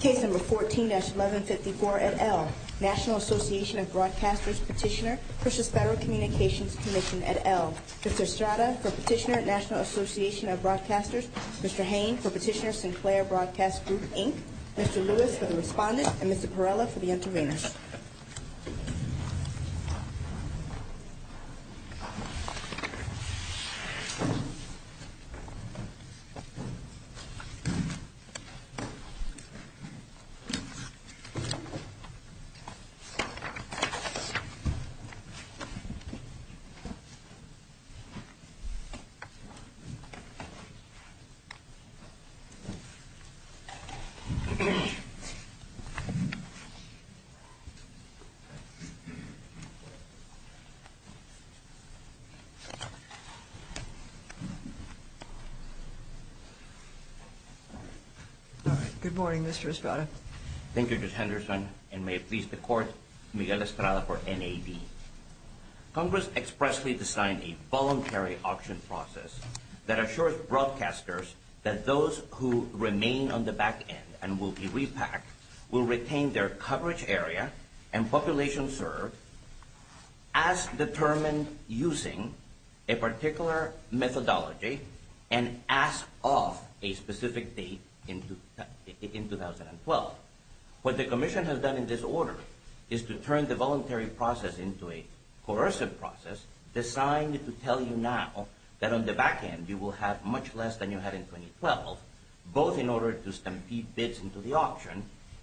Case No. 14-1154, et al. National Association of Broadcasters Petitioner v. Federal Communications Commission, et al. Mr. Estrada, for Petitioner, National Association of Broadcasters. Mr. Hain, for Petitioner, Sinclair Broadcast Group, Inc. Mr. Lewis, for the Respondent. And Mr. Perella, for the Intervenors. Mr. Hain, for the Intervenors. All right. Good morning, Mr. Estrada. Thank you, Judge Henderson, and may it please the Court, Miguel Estrada for NAD. Congress expressly designed a voluntary auction process that assures broadcasters that those who remain on the back end and will be repacked will retain their coverage area and population served as determined using a particular methodology and as of a specific date in 2012. What the Commission has done in this order is to turn the voluntary process into a coercive process designed to tell you now that on the back end you will have much less than you had in 2012, both in order to stampede bids into the auction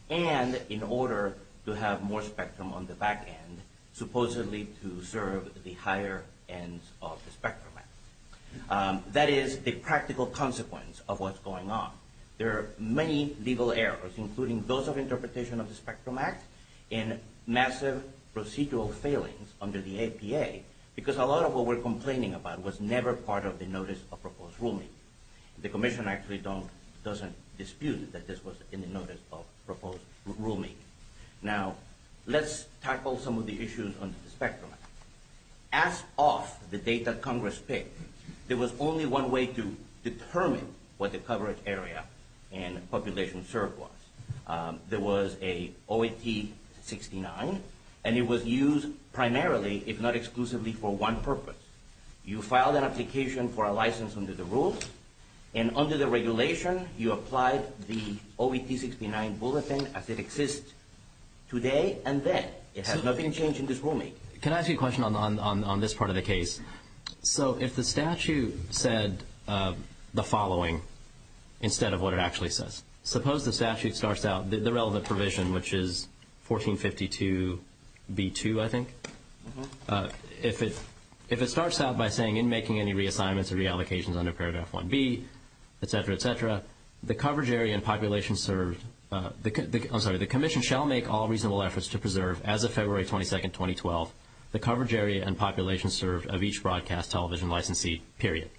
and in order to have more spectrum on the back end, supposedly to serve the higher ends of the Spectrum Act. That is the practical consequence of what's going on. There are many legal errors, including those of interpretation of the Spectrum Act and massive procedural failings under the APA, because a lot of what we're complaining about was never part of the notice of proposed rulemaking. The Commission actually doesn't dispute that this was in the notice of proposed rulemaking. Now, let's tackle some of the issues under the Spectrum Act. As of the date that Congress picked, there was only one way to determine what the coverage area and population served was. There was an OAT-69, and it was used primarily, if not exclusively, for one purpose. You filed an application for a license under the rules, and under the regulation you applied the OAT-69 bulletin as it exists today and then. It has not been changed in this rulemaking. Can I ask you a question on this part of the case? If the statute said the following instead of what it actually says, suppose the statute starts out the relevant provision, which is 1452b2, I think. If it starts out by saying, in making any reassignments or reallocations under paragraph 1b, etc., etc., the Commission shall make all reasonable efforts to preserve, as of February 22, 2012, the coverage area and population served of each broadcast television licensee, period.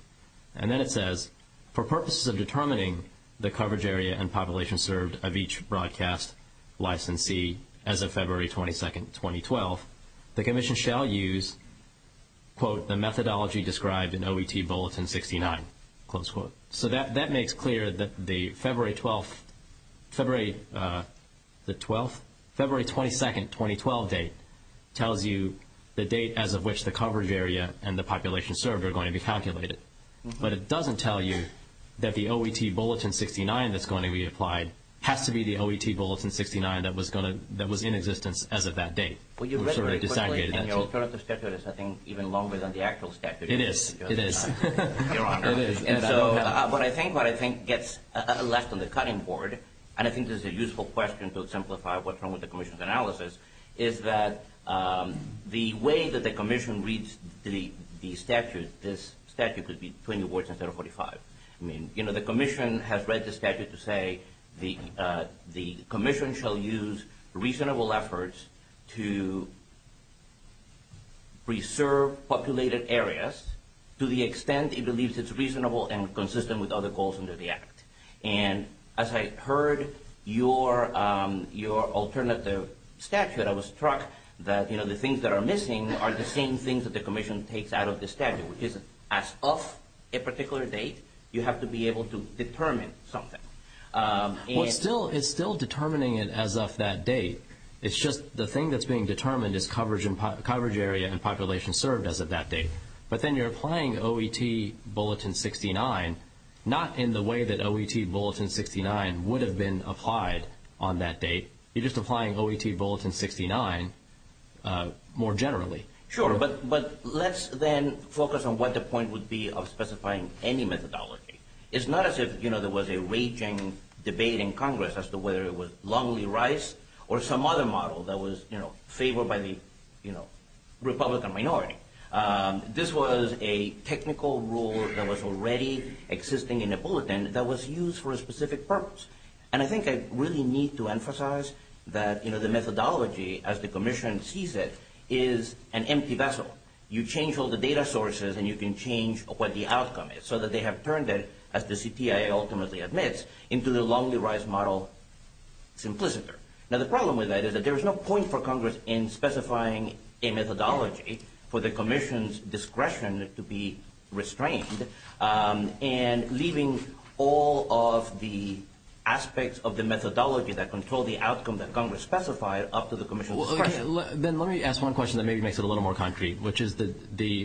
And then it says, for purposes of determining the coverage area and population served of each broadcast licensee, as of February 22, 2012, the Commission shall use, quote, the methodology described in OAT Bulletin 69, close quote. So that makes clear that the February 12th, February the 12th? February 22, 2012 date tells you the date as of which the coverage area and the population served are going to be calculated. But it doesn't tell you that the OAT Bulletin 69 that's going to be applied has to be the OAT Bulletin 69 that was in existence as of that date. Well, you read very quickly, and your alternative statute is, I think, even longer than the actual statute. It is. It is. And so what I think gets left on the cutting board, and I think this is a useful question to simplify what's wrong with the Commission's analysis, is that the way that the Commission reads the statute, this statute could be 20 words instead of 45. I mean, you know, the Commission has read the statute to say the Commission shall use reasonable efforts to preserve populated areas to the extent it believes it's reasonable and consistent with other goals under the Act. And as I heard your alternative statute, I was struck that the things that are missing are the same things that the Commission takes out of the statute, which is as of a particular date, you have to be able to determine something. Well, it's still determining it as of that date. It's just the thing that's being determined is coverage area and population served as of that date. But then you're applying OET Bulletin 69 not in the way that OET Bulletin 69 would have been applied on that date. You're just applying OET Bulletin 69 more generally. Sure, but let's then focus on what the point would be of specifying any methodology. It's not as if, you know, there was a raging debate in Congress as to whether it was Longley-Rice or some other model that was, you know, favored by the, you know, Republican minority. This was a technical rule that was already existing in a bulletin that was used for a specific purpose. And I think I really need to emphasize that, you know, the methodology as the Commission sees it is an empty vessel. You change all the data sources and you can change what the outcome is so that they have turned it, as the CTI ultimately admits, into the Longley-Rice model simpliciter. Now, the problem with that is that there is no point for Congress in specifying a methodology for the Commission's discretion to be restrained and leaving all of the aspects of the methodology that control the outcome that Congress specified up to the Commission's discretion. Well, then let me ask one question that maybe makes it a little more concrete, which is the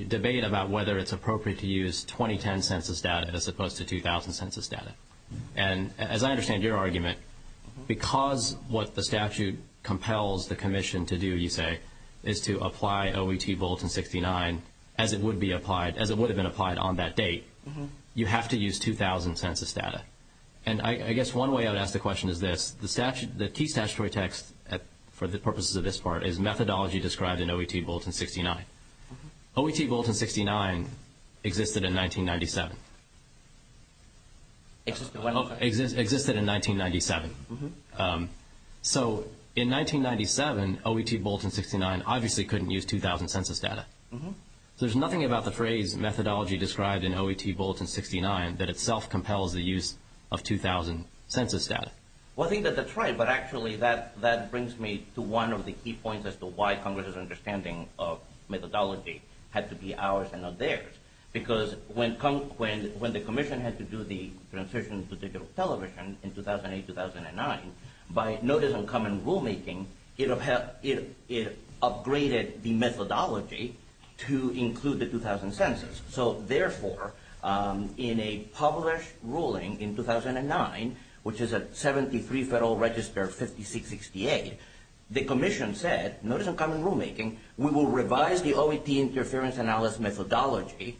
debate about whether it's appropriate to use 2010 census data as opposed to 2000 census data. And as I understand your argument, because what the statute compels the Commission to do, you say, is to apply OET Bulletin 69 as it would have been applied on that date, you have to use 2000 census data. And I guess one way I would ask the question is this. The key statutory text for the purposes of this part is methodology described in OET Bulletin 69. OET Bulletin 69 existed in 1997. Existed when? Existed in 1997. So, in 1997, OET Bulletin 69 obviously couldn't use 2000 census data. There's nothing about the phrase methodology described in OET Bulletin 69 that itself compels the use of 2000 census data. Well, I think that that's right. But actually, that brings me to one of the key points as to why Congress's understanding of methodology had to be ours and not theirs. Because when the Commission had to do the transition to digital television in 2008-2009, by notice and common rulemaking, it upgraded the methodology to include the 2000 census. So, therefore, in a published ruling in 2009, which is at 73 Federal Register 5668, the Commission said, notice and common rulemaking, we will revise the OET interference analysis methodology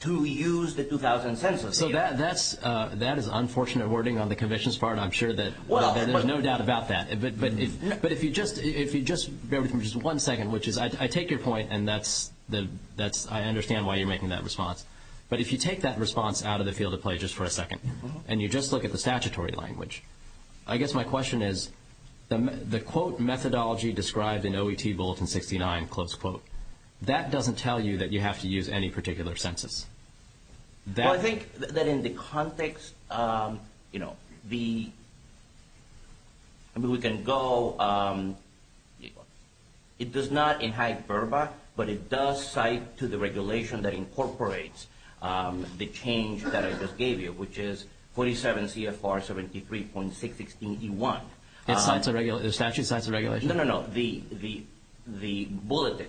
to use the 2000 census data. So, that is unfortunate wording on the Commission's part. I'm sure that there's no doubt about that. But if you just bear with me for just one second, which is I take your point and I understand why you're making that response. But if you take that response out of the field of play just for a second and you just look at the statutory language, I guess my question is the quote methodology described in OET Bulletin 69, close quote, that doesn't tell you that you have to use any particular census. Well, I think that in the context, you know, the – I mean, we can go – it does not enhance VRBA, but it does cite to the regulation that incorporates the change that I just gave you, which is 47 CFR 73.616E1. The statute cites a regulation? No, no, no. The Bulletin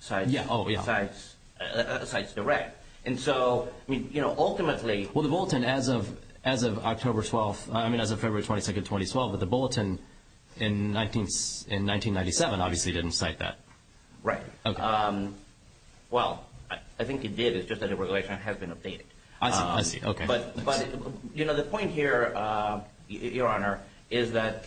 cites the right. And so, I mean, you know, ultimately – Well, the Bulletin as of October 12th – I mean, as of February 22nd, 2012, but the Bulletin in 1997 obviously didn't cite that. Right. Okay. Well, I think it did. It's just that the regulation has been updated. I see. I see. Okay. But, you know, the point here, Your Honor, is that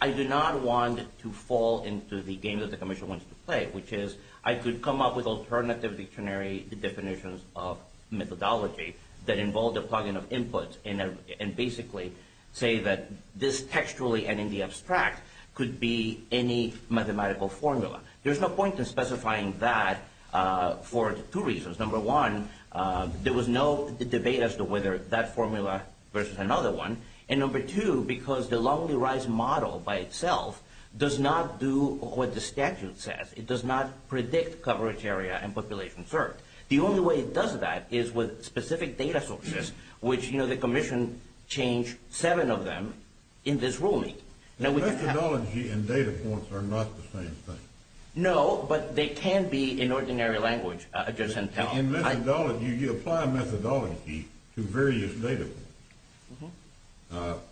I do not want to fall into the game that the commission wants to play, which is I could come up with alternative dictionary definitions of methodology that involve the plugging of inputs and basically say that this textually and in the abstract could be any mathematical formula. There's no point in specifying that for two reasons. Number one, there was no debate as to whether that formula versus another one. And number two, because the Lonely Rise model by itself does not do what the statute says. It does not predict coverage area and population served. The only way it does that is with specific data sources, which, you know, the commission changed seven of them in this ruling. And methodology and data points are not the same thing. No, but they can be in ordinary language. In methodology, you apply methodology to various data points.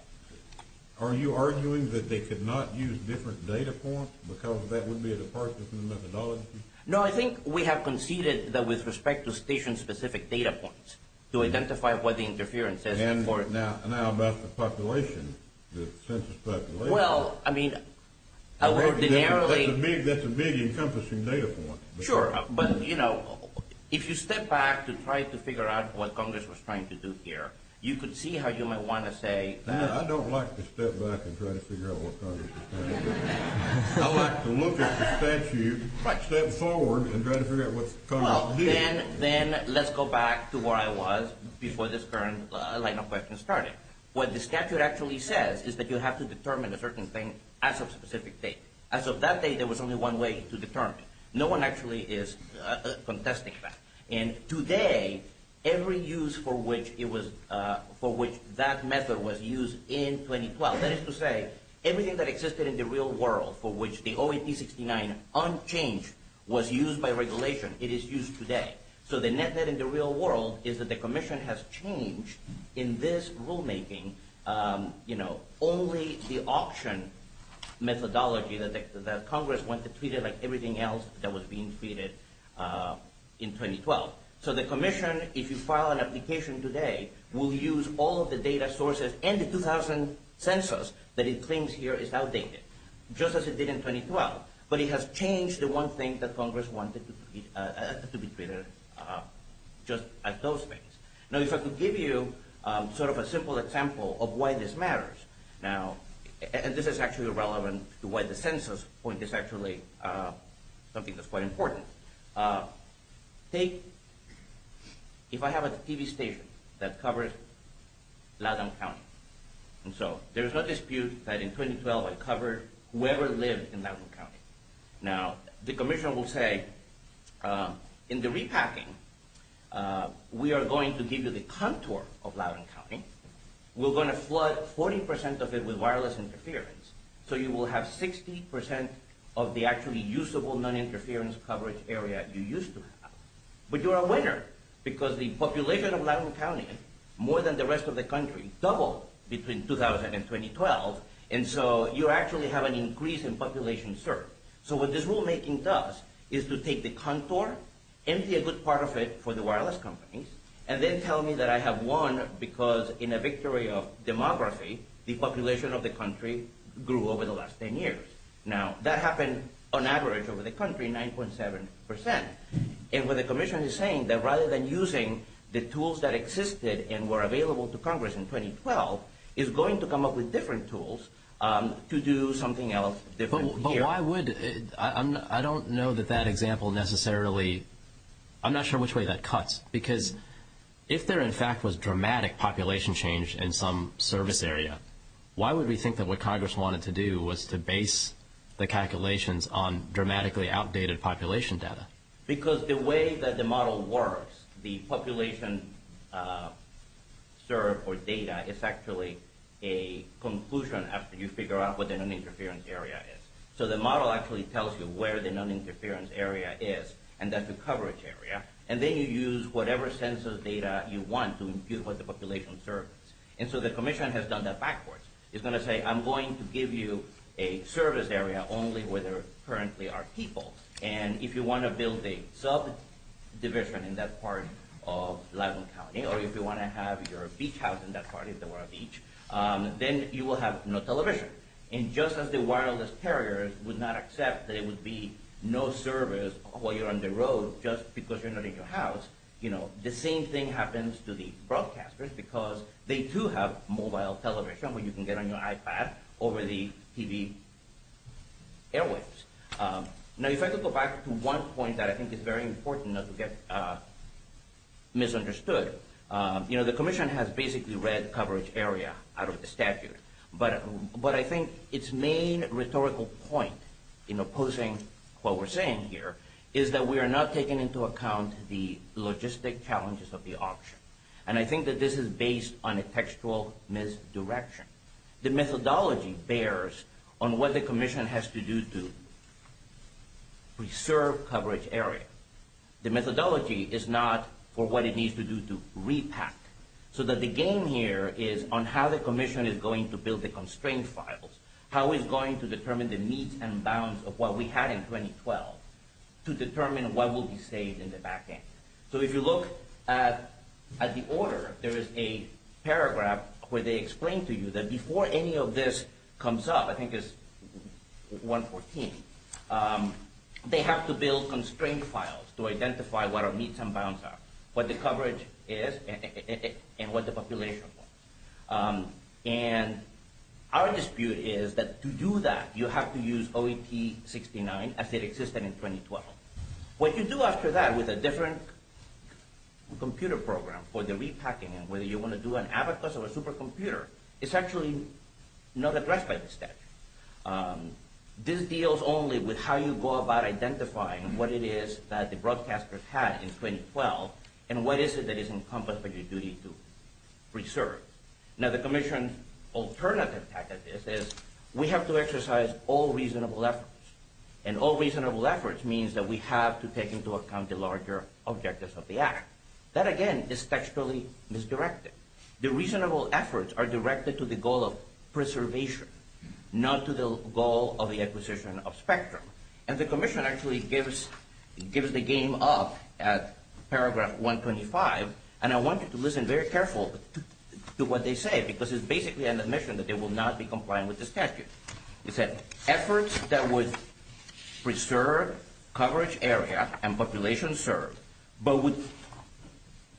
Are you arguing that they could not use different data points because that would be a departure from the methodology? No, I think we have conceded that with respect to station-specific data points to identify what the interference is. And now about the population, the census population. Well, I mean, I would narrowly. That's a big encompassing data point. Sure, but, you know, if you step back to try to figure out what Congress was trying to do here, you could see how you might want to say. I don't like to step back and try to figure out what Congress was trying to do. I like to look at the statute, step forward and try to figure out what Congress did. Then let's go back to where I was before this current line of questions started. What the statute actually says is that you have to determine a certain thing as of a specific date. As of that date, there was only one way to determine it. No one actually is contesting that. And today, every use for which that method was used in 2012, that is to say, everything that existed in the real world for which the OAP69 unchanged was used by regulation, it is used today. So the net net in the real world is that the commission has changed in this rulemaking, you know, only the auction methodology that Congress went to treat it like everything else that was being treated in 2012. So the commission, if you file an application today, will use all of the data sources and the 2000 census that it claims here is outdated, just as it did in 2012. But it has changed the one thing that Congress wanted to be treated just as those things. Now, if I could give you sort of a simple example of why this matters now, and this is actually relevant to why the census point is actually something that's quite important. Take, if I have a TV station that covers Loudoun County. And so there's no dispute that in 2012, I covered whoever lived in Loudoun County. Now, the commission will say, in the repacking, we are going to give you the contour of Loudoun County. We're going to flood 40% of it with wireless interference. So you will have 60% of the actually usable non-interference coverage area you used to have. But you're a winner because the population of Loudoun County, more than the rest of the country, doubled between 2000 and 2012. And so you actually have an increase in population served. So what this rulemaking does is to take the contour, empty a good part of it for the wireless companies, and then tell me that I have won because in a victory of demography, the population of the country grew over the last 10 years. Now, that happened on average over the country, 9.7%. And what the commission is saying, that rather than using the tools that existed and were available to Congress in 2012, is going to come up with different tools to do something else different here. But why would – I don't know that that example necessarily – I'm not sure which way that cuts. Because if there, in fact, was dramatic population change in some service area, why would we think that what Congress wanted to do was to base the calculations on dramatically outdated population data? Because the way that the model works, the population served, or data, is actually a conclusion after you figure out what the non-interference area is. So the model actually tells you where the non-interference area is, and that's the coverage area. And then you use whatever census data you want to impute what the population served is. And so the commission has done that backwards. It's going to say, I'm going to give you a service area only where there currently are people. And if you want to build a subdivision in that part of Latham County, or if you want to have your beach house in that part if there were a beach, then you will have no television. And just as the wireless carriers would not accept that it would be no service while you're on the road just because you're not in your house, the same thing happens to the broadcasters because they, too, have mobile television where you can get on your iPad over the TV airwaves. Now, if I could go back to one point that I think is very important not to get misunderstood, the commission has basically read coverage area out of the statute. But I think its main rhetorical point in opposing what we're saying here is that we are not taking into account the logistic challenges of the auction. And I think that this is based on a textual misdirection. The methodology bears on what the commission has to do to preserve coverage area. The methodology is not for what it needs to do to repack. So that the game here is on how the commission is going to build the constraint files, how it's going to determine the meets and bounds of what we had in 2012 to determine what will be saved in the back end. So if you look at the order, there is a paragraph where they explain to you that before any of this comes up, I think it's 114, they have to build constraint files to identify what our meets and bounds are, what the coverage is, and what the population was. And our dispute is that to do that, you have to use OEP-69 as it existed in 2012. What you do after that with a different computer program for the repacking, whether you want to do an abacus or a supercomputer, it's actually not addressed by the statute. This deals only with how you go about identifying what it is that the broadcasters had in 2012, and what is it that is encompassed by your duty to preserve. Now the commission's alternative tactic is we have to exercise all reasonable efforts. And all reasonable efforts means that we have to take into account the larger objectives of the act. That again is textually misdirected. The reasonable efforts are directed to the goal of preservation, not to the goal of the acquisition of spectrum. And the commission actually gives the game up at paragraph 125, and I want you to listen very carefully to what they say because it's basically an admission that they will not be compliant with the statute. It said, efforts that would preserve coverage area and population served, but would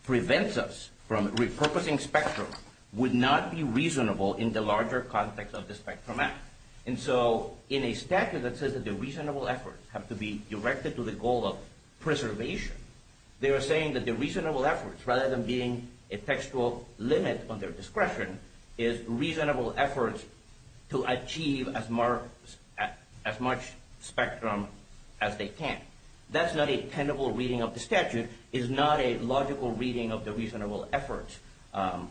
prevent us from repurposing spectrum, would not be reasonable in the larger context of the Spectrum Act. And so in a statute that says that the reasonable efforts have to be directed to the goal of preservation, they are saying that the reasonable efforts, rather than being a textual limit on their discretion, is reasonable efforts to achieve as much spectrum as they can. That's not a tenable reading of the statute. It's not a logical reading of the reasonable efforts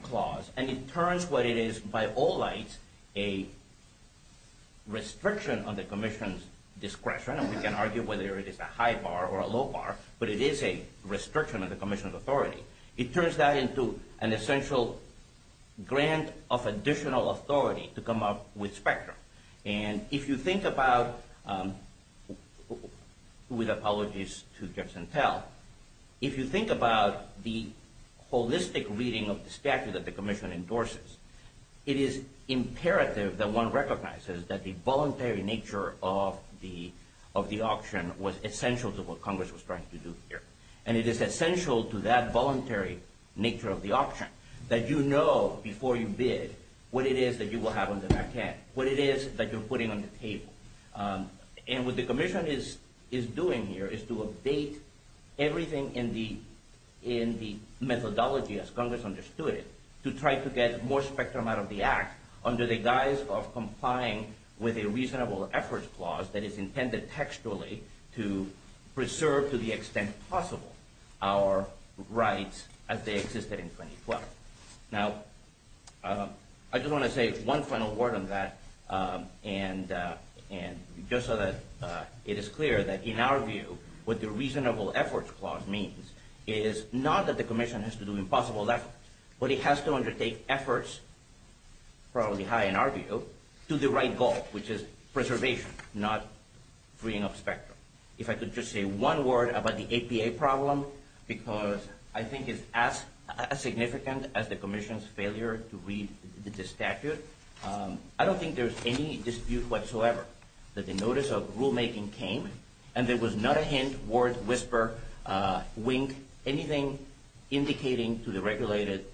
clause. And it turns what it is, by all lights, a restriction on the commission's discretion, and we can argue whether it is a high bar or a low bar, but it is a restriction on the commission's authority. It turns that into an essential grant of additional authority to come up with spectrum. And if you think about, with apologies to Jefferson Tell, if you think about the holistic reading of the statute that the commission endorses, it is imperative that one recognizes that the voluntary nature of the auction was essential to what Congress was trying to do here. And it is essential to that voluntary nature of the auction that you know before you bid what it is that you will have on the back end, what it is that you're putting on the table. And what the commission is doing here is to update everything in the methodology, as Congress understood it, to try to get more spectrum out of the act under the guise of complying with a reasonable efforts clause that is intended textually to preserve to the extent possible our rights as they existed in 2012. Now, I just want to say one final word on that, and just so that it is clear that in our view what the reasonable efforts clause means is not that the commission has to do impossible efforts, but it has to undertake efforts, probably high in our view, to the right goal, which is preservation, not freeing up spectrum. If I could just say one word about the APA problem, because I think it's as significant as the commission's failure to read the statute, I don't think there's any dispute whatsoever that the notice of rulemaking came, and there was not a hint, word, whisper, wink, anything indicating to the regulated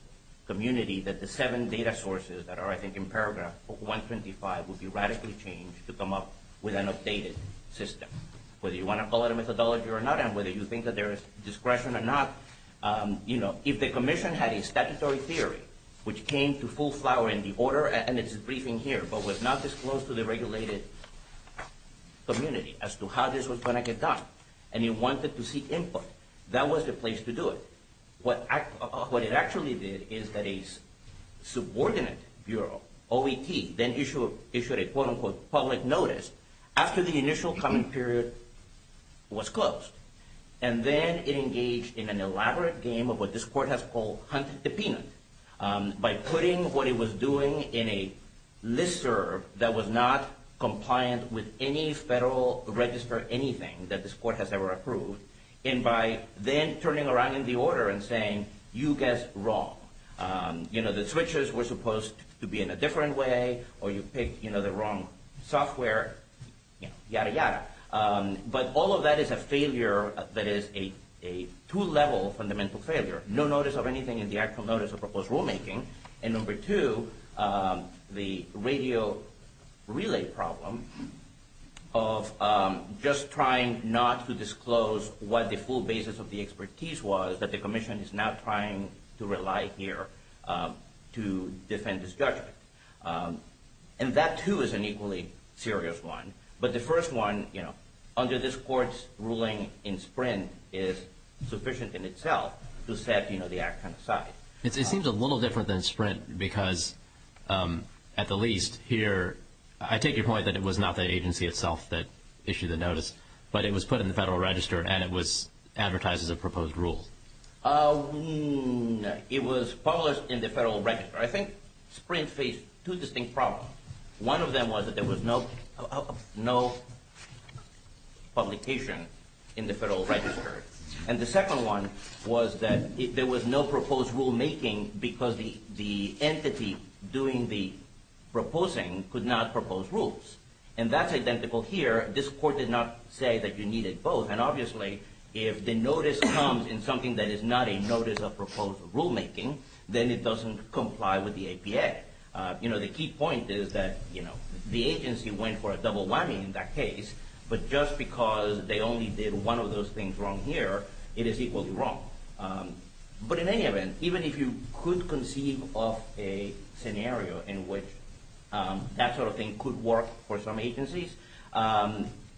community that the seven data sources that are, I think, in paragraph 125 would be radically changed to come up with an updated system. Whether you want to call it a methodology or not, and whether you think that there is discretion or not, if the commission had a statutory theory which came to full flower in the order, and it's a briefing here, but was not disclosed to the regulated community as to how this was going to get done, and it wanted to seek input, that was the place to do it. What it actually did is that a subordinate bureau, OET, then issued a quote-unquote public notice after the initial comment period was closed, and then it engaged in an elaborate game of what this court has called hunt the peanut, by putting what it was doing in a listserv that was not compliant with any federal register, anything that this court has ever approved, and by then turning around in the order and saying, you guessed wrong. The switches were supposed to be in a different way, or you picked the wrong software, yada, yada. But all of that is a failure that is a two-level fundamental failure. No notice of anything in the actual notice of proposed rulemaking. And number two, the radio relay problem of just trying not to disclose what the full basis of the expertise was, that the commission is now trying to rely here to defend its judgment. And that, too, is an equally serious one. But the first one, under this court's ruling in Sprint, is sufficient in itself to set the action aside. It seems a little different than Sprint because, at the least here, I take your point that it was not the agency itself that issued the notice, but it was put in the federal register and it was advertised as a proposed rule. No, it was published in the federal register. I think Sprint faced two distinct problems. One of them was that there was no publication in the federal register. And the second one was that there was no proposed rulemaking because the entity doing the proposing could not propose rules. And that's identical here. This court did not say that you needed both. And obviously, if the notice comes in something that is not a notice of proposed rulemaking, then it doesn't comply with the APA. You know, the key point is that, you know, the agency went for a double whammy in that case, but just because they only did one of those things wrong here, it is equally wrong. But in any event, even if you could conceive of a scenario in which that sort of thing could work for some agencies,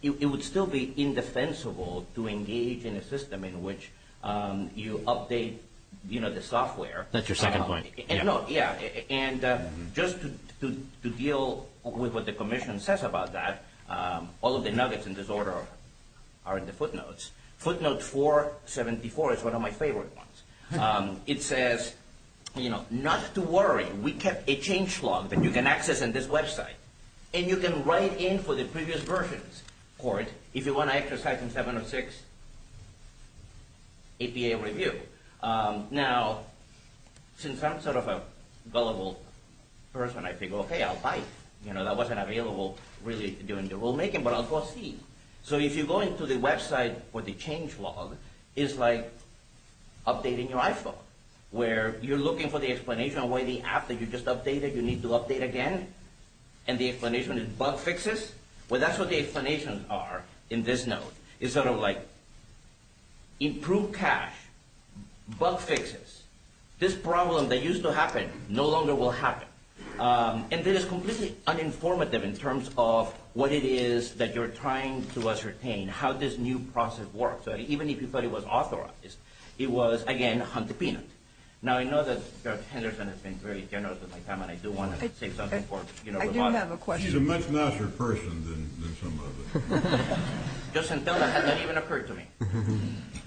it would still be indefensible to engage in a system in which you update, you know, the software. That's your second point. No, yeah. And just to deal with what the commission says about that, all of the nuggets in this order are in the footnotes. Footnote 474 is one of my favorite ones. It says, you know, not to worry. We kept a change log that you can access in this website. And you can write in for the previous version's court if you want to exercise in 706 APA review. Now, since I'm sort of a gullible person, I figure, okay, I'll bite. You know, that wasn't available really during the rulemaking, but I'll proceed. So if you go into the website for the change log, it's like updating your iPhone, where you're looking for the explanation of why the app that you just updated you need to update again, and the explanation is bug fixes. Well, that's what the explanations are in this note. It's sort of like improve cache, bug fixes. This problem that used to happen no longer will happen. And it is completely uninformative in terms of what it is that you're trying to ascertain, how this new process works, even if you thought it was authorized. It was, again, hunt the peanut. Now, I know that Judge Henderson has been very generous with my time, and I do want to say something. I do have a question. She's a much nicer person than some of us. Just until that has not even occurred to me.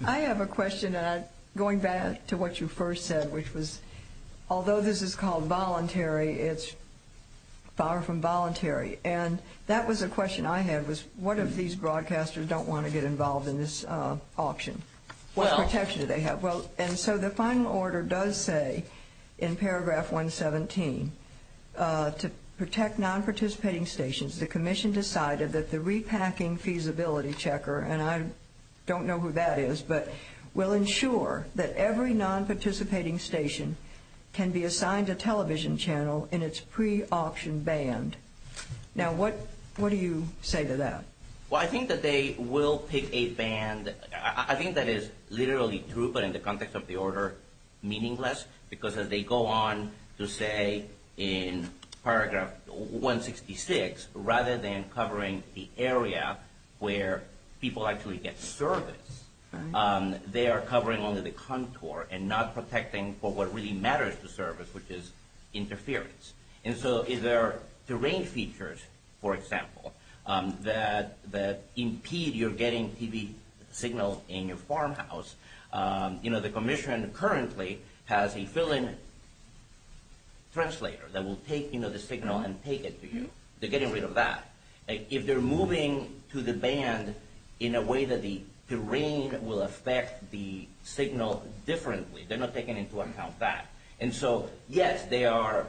I have a question. Going back to what you first said, which was, although this is called voluntary, it's far from voluntary. And that was a question I had, was what if these broadcasters don't want to get involved in this auction? What protection do they have? And so the final order does say in paragraph 117, to protect non-participating stations, the commission decided that the repacking feasibility checker, and I don't know who that is, but will ensure that every non-participating station can be assigned a television channel in its pre-auction band. Now, what do you say to that? Well, I think that they will pick a band. I think that is literally true, but in the context of the order, meaningless. Because as they go on to say in paragraph 166, rather than covering the area where people actually get service, they are covering only the contour and not protecting for what really matters to service, which is interference. And so if there are terrain features, for example, that impede your getting TV signal in your farmhouse, the commission currently has a fill-in translator that will take the signal and take it to you. They're getting rid of that. If they're moving to the band in a way that the terrain will affect the signal differently, they're not taking into account that. And so, yes, they are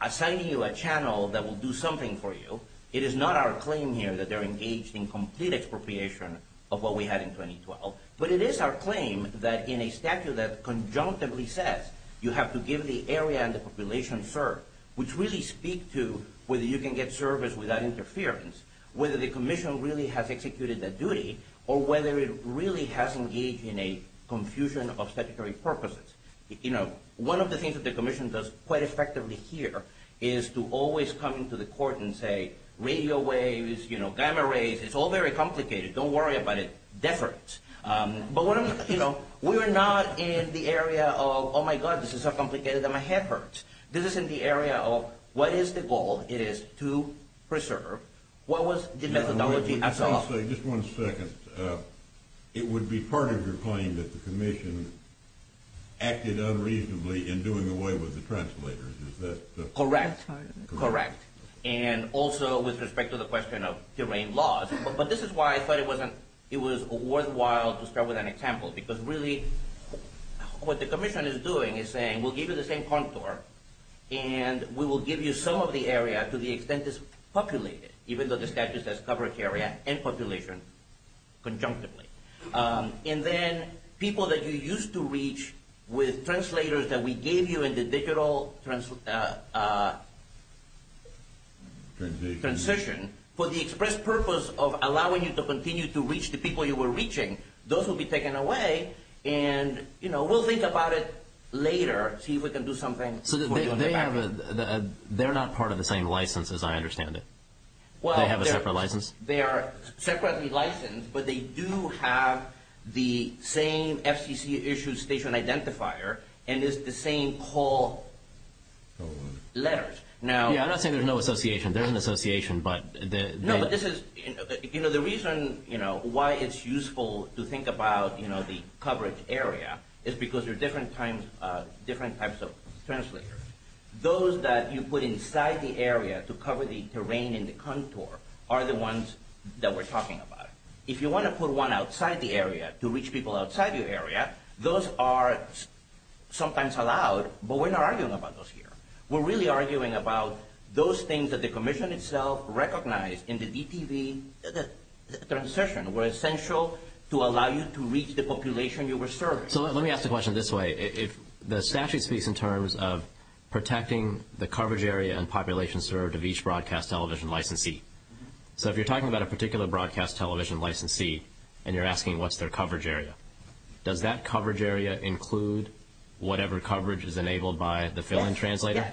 assigning you a channel that will do something for you. It is not our claim here that they're engaged in complete expropriation of what we had in 2012. But it is our claim that in a statute that conjunctively says you have to give the area and the population service, which really speaks to whether you can get service without interference, whether the commission really has executed that duty, or whether it really has engaged in a confusion of statutory purposes. One of the things that the commission does quite effectively here is to always come into the court and say radio waves, gamma rays, it's all very complicated. Don't worry about it. Death hurts. But we're not in the area of, oh, my God, this is so complicated that my head hurts. This is in the area of what is the goal? It is to preserve. What was the methodology? Just one second. It would be part of your claim that the commission acted unreasonably in doing away with the translators. Is that correct? Correct. And also with respect to the question of terrain laws. But this is why I thought it was worthwhile to start with an example, because really what the commission is doing is saying we'll give you the same contour, and we will give you some of the area to the extent it's populated, even though the statute says covered area and population conjunctively. And then people that you used to reach with translators that we gave you in the digital transition, for the express purpose of allowing you to continue to reach the people you were reaching, those will be taken away, and we'll think about it later, see if we can do something. So they're not part of the same license as I understand it. They have a separate license? They are separately licensed, but they do have the same FCC-issued station identifier, and it's the same whole letters. Yeah, I'm not saying there's no association. There is an association, but the – No, but this is – you know, the reason why it's useful to think about the coverage area is because there are different types of translators. Those that you put inside the area to cover the terrain and the contour are the ones that we're talking about. If you want to put one outside the area to reach people outside your area, those are sometimes allowed, but we're not arguing about those here. We're really arguing about those things that the commission itself recognized in the DTV transition were essential to allow you to reach the population you were serving. So let me ask the question this way. The statute speaks in terms of protecting the coverage area and population served of each broadcast television licensee. So if you're talking about a particular broadcast television licensee and you're asking what's their coverage area, does that coverage area include whatever coverage is enabled by the fill-in translator?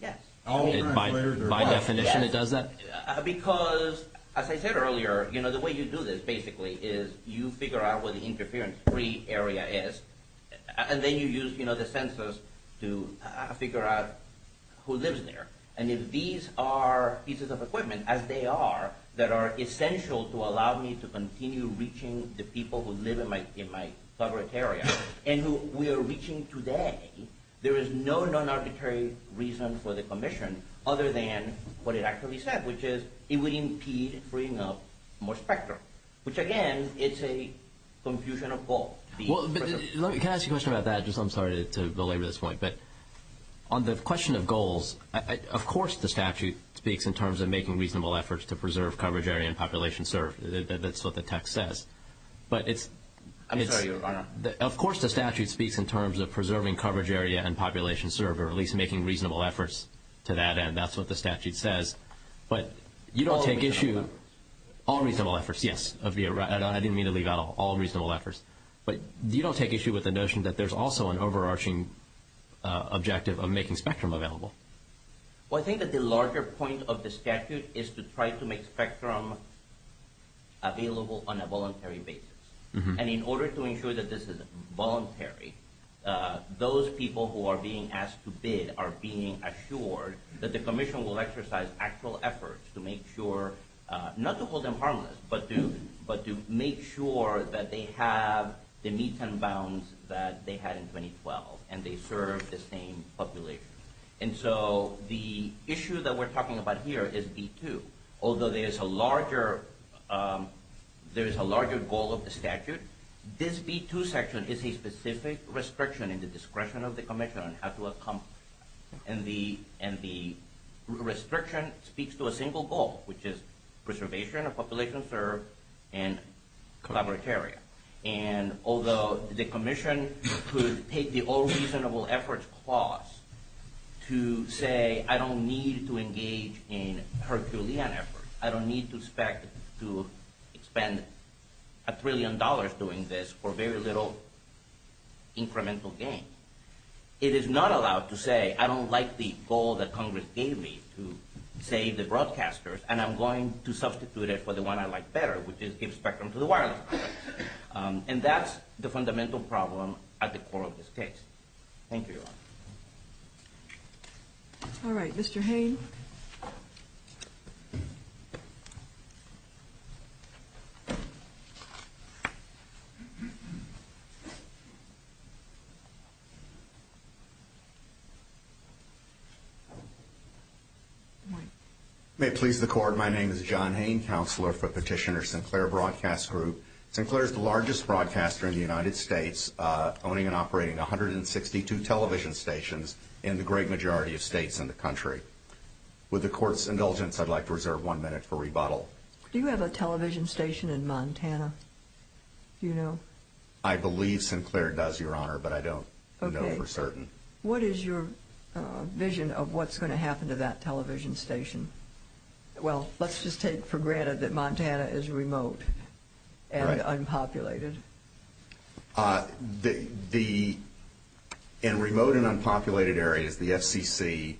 Yes, yes. By definition it does that? Yes, because as I said earlier, you know, the way you do this basically is you figure out what the interference-free area is, and then you use the census to figure out who lives there. And if these are pieces of equipment, as they are, that are essential to allow me to continue reaching the people who live in my coverage area and who we are reaching today, there is no non-arbitrary reason for the commission other than what it actually said, which is it would impede freeing up more spectrum, which, again, is a confusion of goals. Can I ask you a question about that? I'm sorry to belabor this point. But on the question of goals, of course the statute speaks in terms of making reasonable efforts to preserve coverage area and population served. That's what the text says. I'm sorry, Your Honor. Of course the statute speaks in terms of preserving coverage area and population served or at least making reasonable efforts to that end. That's what the statute says. But you don't take issue. All reasonable efforts. Yes. I didn't mean to leave out all reasonable efforts. But you don't take issue with the notion that there's also an overarching objective of making spectrum available. Well, I think that the larger point of the statute is to try to make spectrum available on a voluntary basis. And in order to ensure that this is voluntary, those people who are being asked to bid are being assured that the commission will exercise actual efforts to make sure, not to hold them harmless, but to make sure that they have the meets and bounds that they had in 2012 and they serve the same population. And so the issue that we're talking about here is B2. Although there is a larger goal of the statute, this B2 section is a specific restriction in the discretion of the commission on how to accomplish it. And the restriction speaks to a single goal, which is preservation of population served and collaborative area. And although the commission could take the all reasonable efforts clause to say, I don't need to engage in Herculean efforts, I don't need to expect to spend a trillion dollars doing this for very little incremental gain. It is not allowed to say, I don't like the goal that Congress gave me to save the broadcasters, and I'm going to substitute it for the one I like better, which is give spectrum to the wireless. And that's the fundamental problem at the core of this case. Thank you. All right. Mr. Hayne. May it please the Court. My name is John Hayne, Counselor for Petitioner Sinclair Broadcast Group. Sinclair is the largest broadcaster in the United States, owning and operating 162 television stations in the great majority of states in the country. With the Court's indulgence, I'd like to reserve one minute for rebuttal. Do you have a television station in Montana? Do you know? I believe Sinclair does, Your Honor, but I don't know for certain. What is your vision of what's going to happen to that television station? Well, let's just take for granted that Montana is remote and unpopulated. In remote and unpopulated areas, the FCC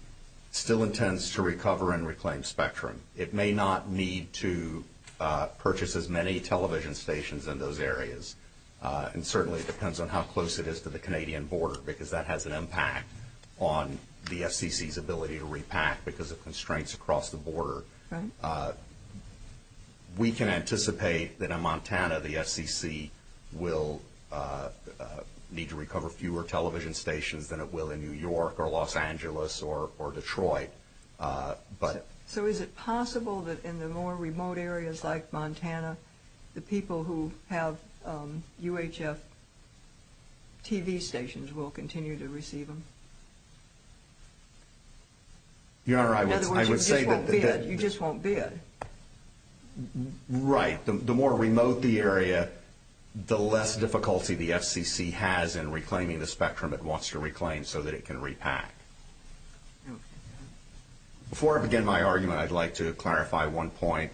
still intends to recover and reclaim spectrum. It may not need to purchase as many television stations in those areas, and certainly it depends on how close it is to the Canadian border, because that has an impact on the FCC's ability to repack because of constraints across the border. Right. We can anticipate that in Montana, the FCC will need to recover fewer television stations than it will in New York or Los Angeles or Detroit. So is it possible that in the more remote areas like Montana, the people who have UHF TV stations will continue to receive them? Your Honor, I would say that the... In other words, you just won't bid. Right. The more remote the area, the less difficulty the FCC has in reclaiming the spectrum it wants to reclaim so that it can repack. Okay. Before I begin my argument, I'd like to clarify one point.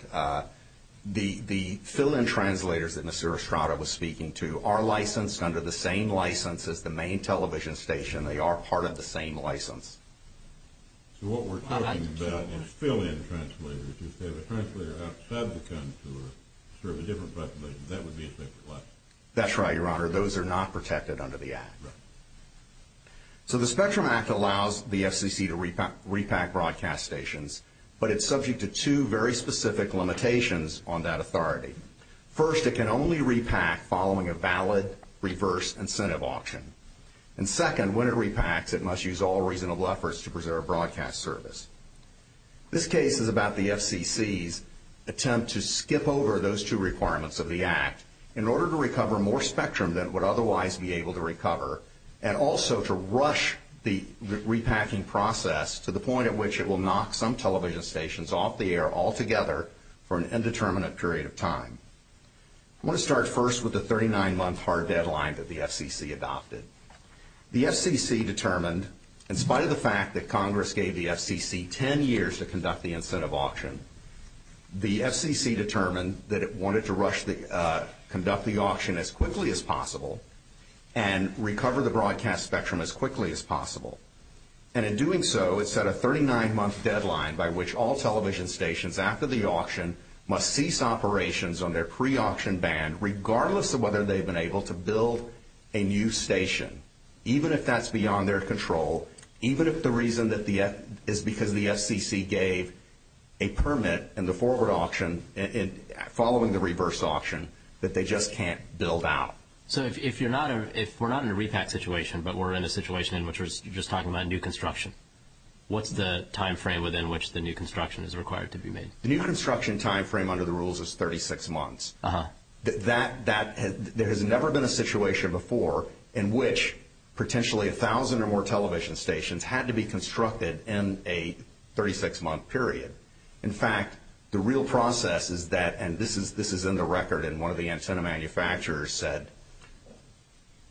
The fill-in translators that Mr. Estrada was speaking to are licensed under the same license as the main television station. They are part of the same license. So what we're talking about is fill-in translators. If you have a translator outside of the country who serves a different population, that would be a separate license. That's right, Your Honor. Those are not protected under the Act. Right. So the Spectrum Act allows the FCC to repack broadcast stations, but it's subject to two very specific limitations on that authority. First, it can only repack following a valid reverse incentive auction. And second, when it repacks, it must use all reasonable efforts to preserve broadcast service. This case is about the FCC's attempt to skip over those two requirements of the Act in order to recover more spectrum than it would otherwise be able to recover and also to rush the repacking process to the point at which it will knock some television stations off the air altogether for an indeterminate period of time. I want to start first with the 39-month hard deadline that the FCC adopted. The FCC determined, in spite of the fact that Congress gave the FCC 10 years to conduct the incentive auction, the FCC determined that it wanted to conduct the auction as quickly as possible and recover the broadcast spectrum as quickly as possible. And in doing so, it set a 39-month deadline by which all television stations after the auction must cease operations on their pre-auction band, regardless of whether they've been able to build a new station, even if that's beyond their control, even if the reason is because the FCC gave a permit in the forward auction following the reverse auction that they just can't build out. So if we're not in a repack situation, but we're in a situation in which we're just talking about new construction, what's the time frame within which the new construction is required to be made? The new construction time frame under the rules is 36 months. There has never been a situation before in which potentially a thousand or more television stations had to be constructed in a 36-month period. In fact, the real process is that, and this is in the record, and one of the antenna manufacturers said,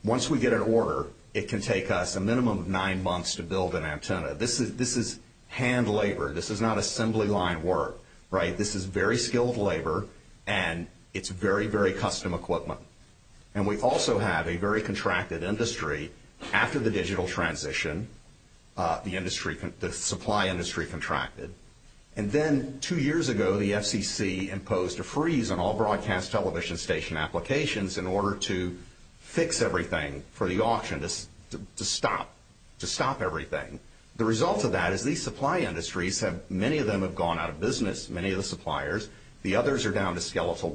once we get an order, it can take us a minimum of nine months to build an antenna. This is hand labor. This is not assembly line work, right? This is very skilled labor, and it's very, very custom equipment. And we also have a very contracted industry. After the digital transition, the supply industry contracted. And then two years ago, the FCC imposed a freeze on all broadcast television station applications in order to fix everything for the auction, to stop everything. The result of that is these supply industries have, many of them have gone out of business, many of the suppliers, the others are down to skeletal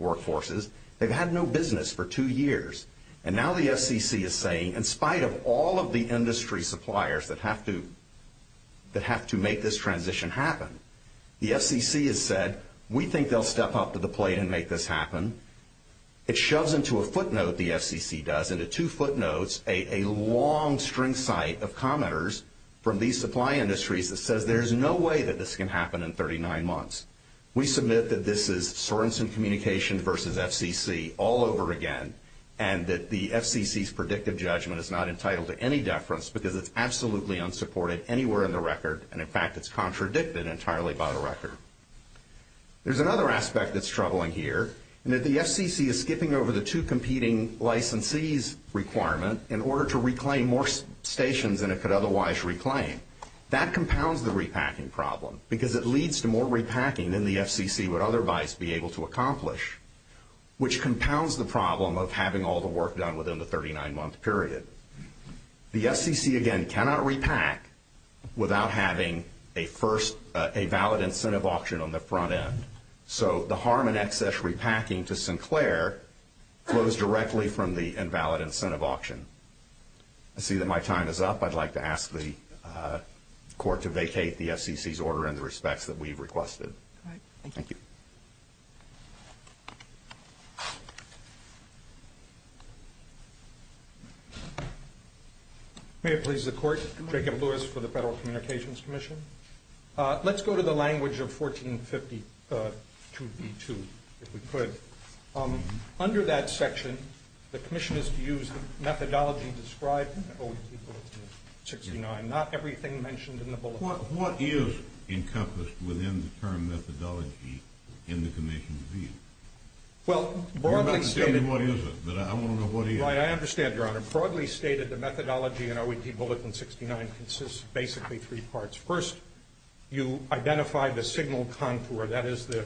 workforces. They've had no business for two years. And now the FCC is saying, in spite of all of the industry suppliers that have to make this transition happen, the FCC has said, we think they'll step up to the plate and make this happen. It shoves into a footnote, the FCC does, into two footnotes, a long string site of commenters from these supply industries that says, there's no way that this can happen in 39 months. We submit that this is Sorenson Communication versus FCC all over again, and that the FCC's predictive judgment is not entitled to any deference because it's absolutely unsupported anywhere in the record, and, in fact, it's contradicted entirely by the record. There's another aspect that's troubling here, and that the FCC is skipping over the two competing licensees requirement in order to reclaim more stations than it could otherwise reclaim. That compounds the repacking problem, because it leads to more repacking than the FCC would otherwise be able to accomplish, which compounds the problem of having all the work done within the 39-month period. The FCC, again, cannot repack without having a valid incentive auction on the front end, so the harm and excess repacking to Sinclair flows directly from the invalid incentive auction. I see that my time is up. I'd like to ask the Court to vacate the FCC's order in the respects that we've requested. All right. Thank you. May it please the Court. Jacob Lewis for the Federal Communications Commission. Let's go to the language of 1452B2, if we could. Under that section, the Commission is to use the methodology described in the OET Bulletin 69, not everything mentioned in the Bulletin. What is encompassed within the term methodology in the Commission's view? Well, broadly stated— You're not going to tell me what it is, but I want to know what it is. I understand, Your Honor. Broadly stated, the methodology in OET Bulletin 69 consists of basically three parts. First, you identify the signal contour. That is the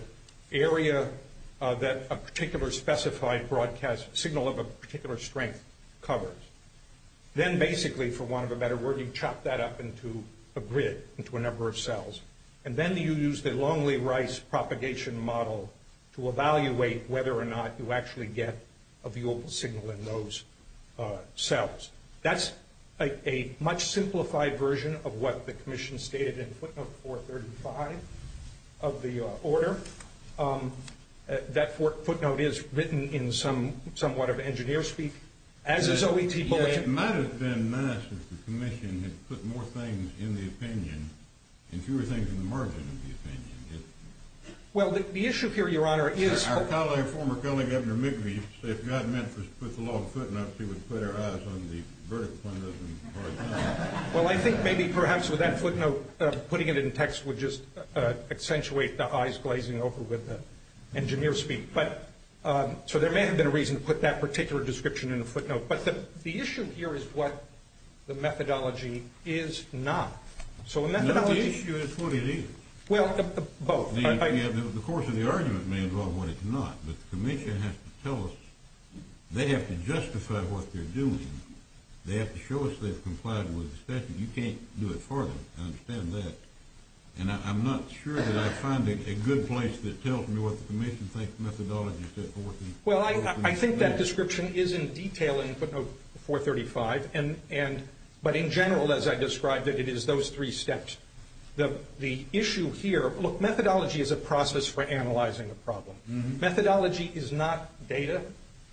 area that a particular specified broadcast signal of a particular strength covers. Then basically, for want of a better word, you chop that up into a grid, into a number of cells. And then you use the Longley-Rice propagation model to evaluate whether or not you actually get a viewable signal in those cells. That's a much simplified version of what the Commission stated in footnote 435 of the order. That footnote is written in somewhat of engineer speak, as is OET Bulletin— It might have been nice if the Commission had put more things in the opinion and fewer things in the margin of the opinion. Well, the issue here, Your Honor, is— Our colleague, former colleague, Governor McGee, used to say if God meant for us to put the law in footnotes, He would put our eyes on the vertical fundus and the horizontal. Well, I think maybe perhaps with that footnote, putting it in text would just accentuate the eyes glazing over with the engineer speak. So there may have been a reason to put that particular description in the footnote. But the issue here is what the methodology is not. So the methodology— No, the issue is what it is. Well, both. The course of the argument may involve what it's not, but the Commission has to tell us they have to justify what they're doing. They have to show us they've complied with the statute. You can't do it for them. I understand that. And I'm not sure that I find a good place that tells me what the Commission thinks methodology is set for. Well, I think that description is in detail in footnote 435, but in general, as I described it, it is those three steps. The issue here—look, methodology is a process for analyzing a problem. Methodology is not data.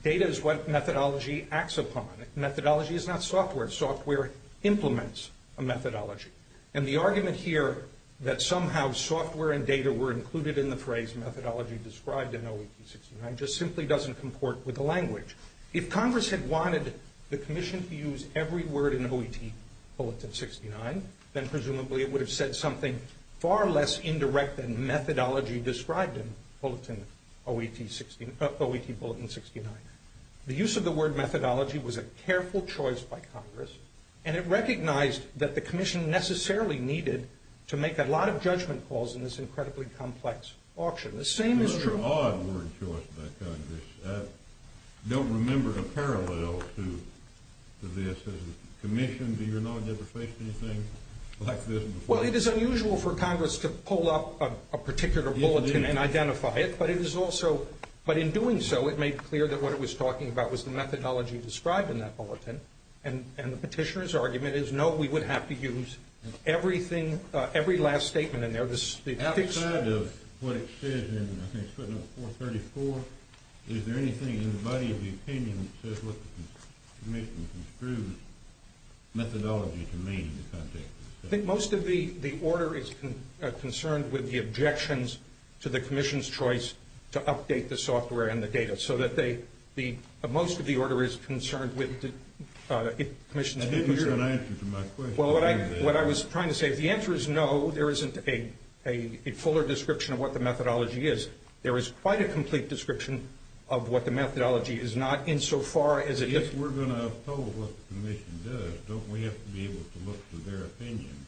Data is what methodology acts upon. Methodology is not software. Software implements a methodology. And the argument here that somehow software and data were included in the phrase methodology described in OET69 just simply doesn't comport with the language. If Congress had wanted the Commission to use every word in OET Bulletin 69, then presumably it would have said something far less indirect than methodology described in OET Bulletin 69. The use of the word methodology was a careful choice by Congress, and it recognized that the Commission necessarily needed to make a lot of judgment calls in this incredibly complex auction. The same is true— It's a very odd word choice by Congress. I don't remember a parallel to this. As a Commission, do you not get to face anything like this before? Well, it is unusual for Congress to pull up a particular bulletin and identify it, but it is also— what it was talking about was the methodology described in that bulletin, and the petitioner's argument is no, we would have to use everything, every last statement in there. Outside of what it says in, I think it's written on 434, is there anything in the body of the opinion that says what the Commission construed methodology to mean in the context of this case? I think most of the order is concerned with the objections to the Commission's choice to update the software and the data so that most of the order is concerned with the Commission's— You didn't even answer to my question. Well, what I was trying to say, if the answer is no, there isn't a fuller description of what the methodology is. There is quite a complete description of what the methodology is, not insofar as it— If we're going to oppose what the Commission does, don't we have to be able to look to their opinion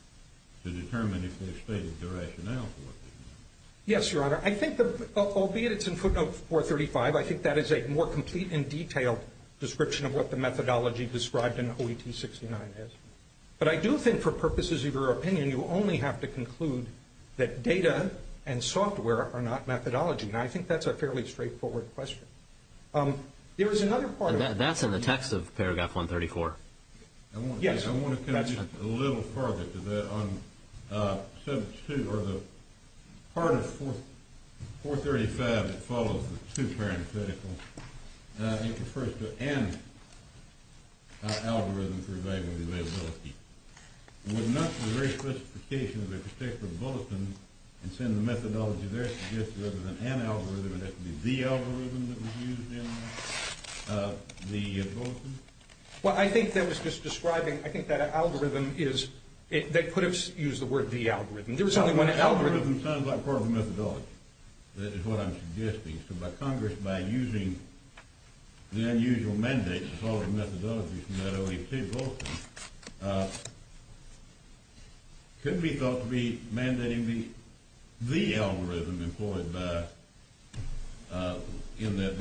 to determine if they've stated their rationale for what they mean? Yes, Your Honor. I think, albeit it's in footnote 435, I think that is a more complete and detailed description of what the methodology described in OET 69 is. But I do think for purposes of your opinion, you only have to conclude that data and software are not methodology, and I think that's a fairly straightforward question. There is another part— That's in the text of paragraph 134. Yes. I want to go just a little farther to that. On part of 435 that follows the two parentheticals, it refers to an algorithm for evaluating the availability. Would not the very classification of a particular bulletin and send the methodology there suggest rather than an algorithm, it has to be the algorithm that was used in the bulletin? Well, I think that was just describing—I think that algorithm is—they could have used the word the algorithm. There was only one algorithm— The algorithm sounds like part of the methodology. That is what I'm suggesting. So by Congress, by using the unusual mandate to follow the methodology from that OET bulletin, could be thought to be mandating the algorithm employed by—in that—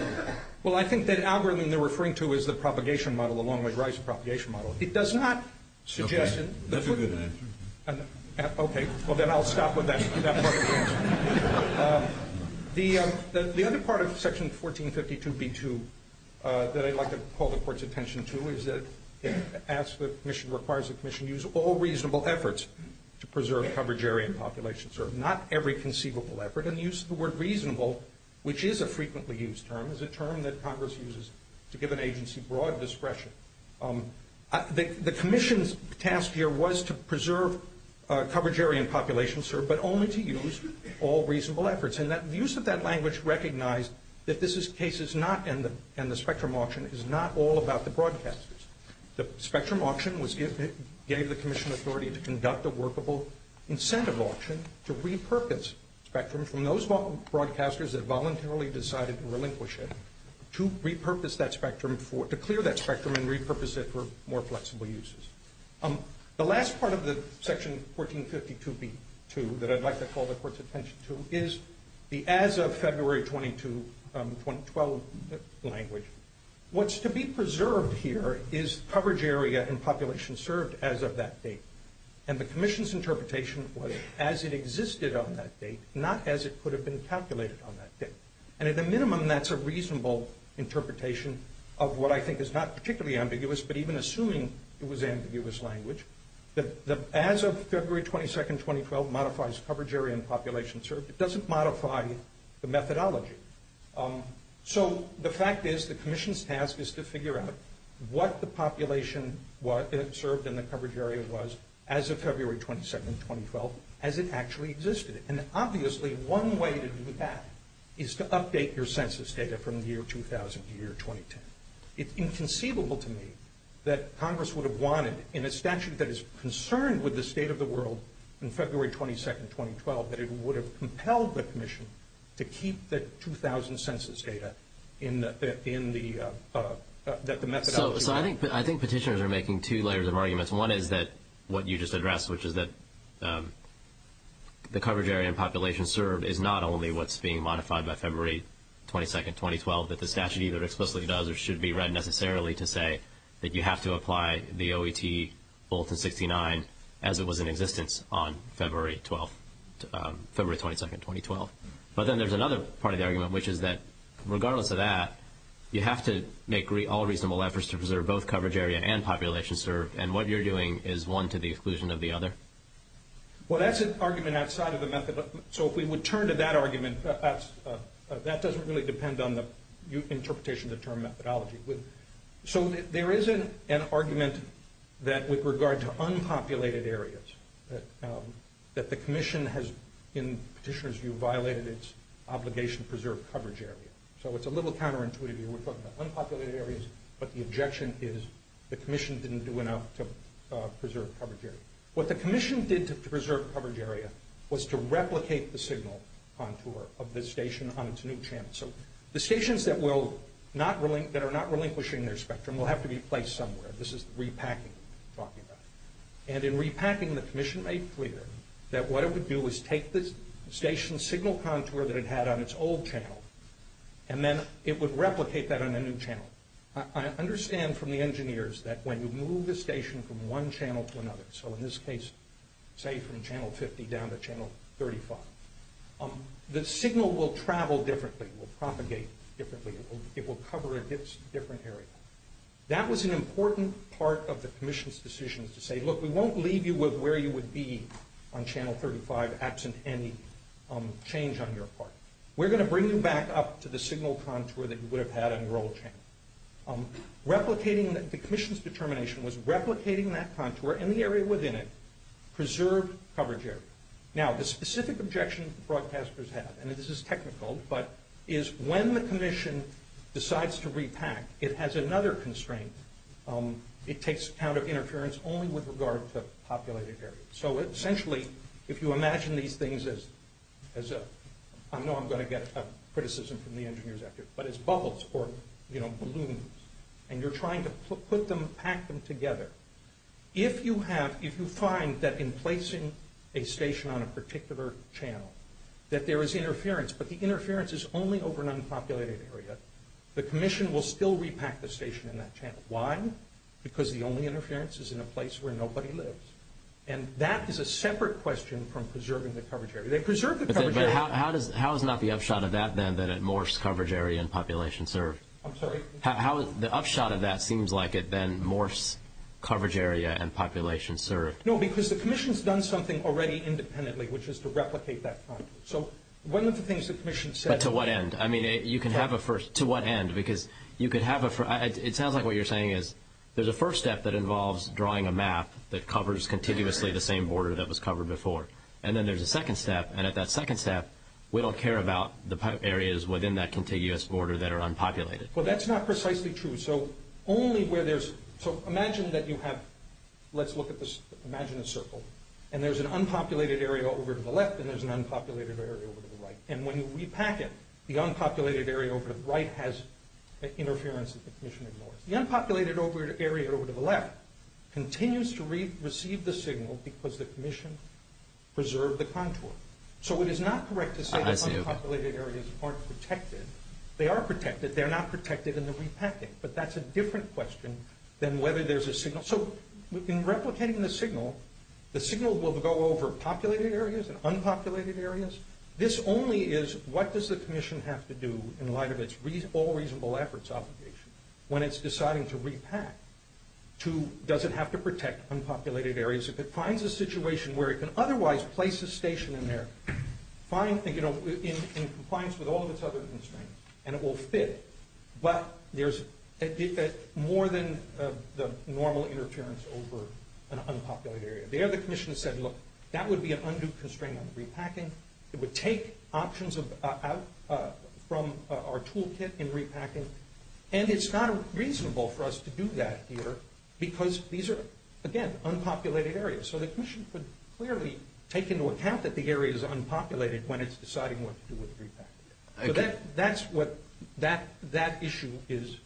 Well, I think that algorithm they're referring to is the propagation model, the Longway-Rice propagation model. It does not suggest— That's a good answer. Okay. Well, then I'll stop with that part of the answer. The other part of section 1452b2 that I'd like to call the Court's attention to is that it asks the commission, requires the commission use all reasonable efforts to preserve coverage area and population. Not every conceivable effort. And the use of the word reasonable, which is a frequently used term, is a term that Congress uses to give an agency broad discretion. The commission's task here was to preserve coverage area and population, sir, but only to use all reasonable efforts. And the use of that language recognized that this is cases not—and the Spectrum Auction is not all about the broadcasters. The Spectrum Auction was—gave the commission authority to conduct a workable incentive auction to repurpose Spectrum from those broadcasters that voluntarily decided to relinquish it, to repurpose that Spectrum for—to clear that Spectrum and repurpose it for more flexible uses. The last part of the section 1452b2 that I'd like to call the Court's attention to is the as of February 22, 2012 language. What's to be preserved here is coverage area and population served as of that date. And the commission's interpretation was as it existed on that date, not as it could have been calculated on that date. And at the minimum, that's a reasonable interpretation of what I think is not particularly ambiguous, but even assuming it was ambiguous language. The as of February 22, 2012 modifies coverage area and population served. It doesn't modify the methodology. So the fact is the commission's task is to figure out what the population served in the coverage area was as of February 22, 2012 as it actually existed. And obviously, one way to do that is to update your census data from the year 2000 to year 2010. It's inconceivable to me that Congress would have wanted in a statute that is concerned with the state of the world in February 22, 2012 that it would have compelled the commission to keep the 2000 census data in the methodology. So I think petitioners are making two layers of arguments. One is that what you just addressed, which is that the coverage area and population served is not only what's being modified by February 22, 2012, that the statute either explicitly does or should be read necessarily to say that you have to apply the OET bulletin 69 as it was in existence on February 22, 2012. But then there's another part of the argument, which is that regardless of that, you have to make all reasonable efforts to preserve both coverage area and population served, and what you're doing is one to the exclusion of the other. Well, that's an argument outside of the methodology. So if we would turn to that argument, that doesn't really depend on the interpretation of the term methodology. So there is an argument that with regard to unpopulated areas, that the commission has, in petitioners' view, violated its obligation to preserve coverage area. So it's a little counterintuitive here. We're talking about unpopulated areas, but the objection is the commission didn't do enough to preserve coverage area. What the commission did to preserve coverage area was to replicate the signal contour of the station on its new channel. So the stations that are not relinquishing their spectrum will have to be placed somewhere. This is repacking we're talking about. And in repacking, the commission made clear that what it would do is take the station's signal contour that it had on its old channel, and then it would replicate that on a new channel. I understand from the engineers that when you move the station from one channel to another, so in this case, say, from channel 50 down to channel 35, the signal will travel differently. It will propagate differently. It will cover a different area. That was an important part of the commission's decision to say, look, we won't leave you with where you would be on channel 35 absent any change on your part. We're going to bring you back up to the signal contour that you would have had on your old channel. The commission's determination was replicating that contour and the area within it, preserved coverage area. Now, the specific objection broadcasters have, and this is technical, but is when the commission decides to repack, it has another constraint. It takes account of interference only with regard to populated areas. So essentially, if you imagine these things as, I know I'm going to get criticism from the engineers out there, but as bubbles or, you know, balloons, and you're trying to put them, pack them together, if you have, if you find that in placing a station on a particular channel, that there is interference, but the interference is only over an unpopulated area, the commission will still repack the station in that channel. Why? Because the only interference is in a place where nobody lives. And that is a separate question from preserving the coverage area. They preserved the coverage area. But how is not the upshot of that, then, that it morphs coverage area and population served? I'm sorry? How is the upshot of that seems like it then morphs coverage area and population served? No, because the commission's done something already independently, which is to replicate that front. So one of the things the commission said... But to what end? I mean, you can have a first... To what end? Because you could have a... It sounds like what you're saying is there's a first step that involves drawing a map that covers contiguously the same border that was covered before, and then there's a second step, and at that second step, we don't care about the areas within that contiguous border that are unpopulated. Well, that's not precisely true. So only where there's... So imagine that you have... Let's look at this. Imagine a circle, and there's an unpopulated area over to the left, and there's an unpopulated area over to the right. And when you repack it, the unpopulated area over to the right has interference that the commission ignores. The unpopulated area over to the left continues to receive the signal because the commission preserved the contour. So it is not correct to say that unpopulated areas aren't protected. They are protected. They're not protected in the repacking, but that's a different question than whether there's a signal. So in replicating the signal, the signal will go over populated areas and unpopulated areas. This only is what does the commission have to do in light of its all reasonable efforts obligation when it's deciding to repack. Does it have to protect unpopulated areas? If it finds a situation where it can otherwise place a station in there, in compliance with all of its other constraints, and it will fit, but there's more than the normal interference over an unpopulated area. The other commission said, look, that would be an undue constraint on repacking. It would take options out from our toolkit in repacking, and it's not reasonable for us to do that here because these are, again, unpopulated areas. So the commission could clearly take into account that the area is unpopulated when it's deciding what to do with the repack. So that's what that issue is.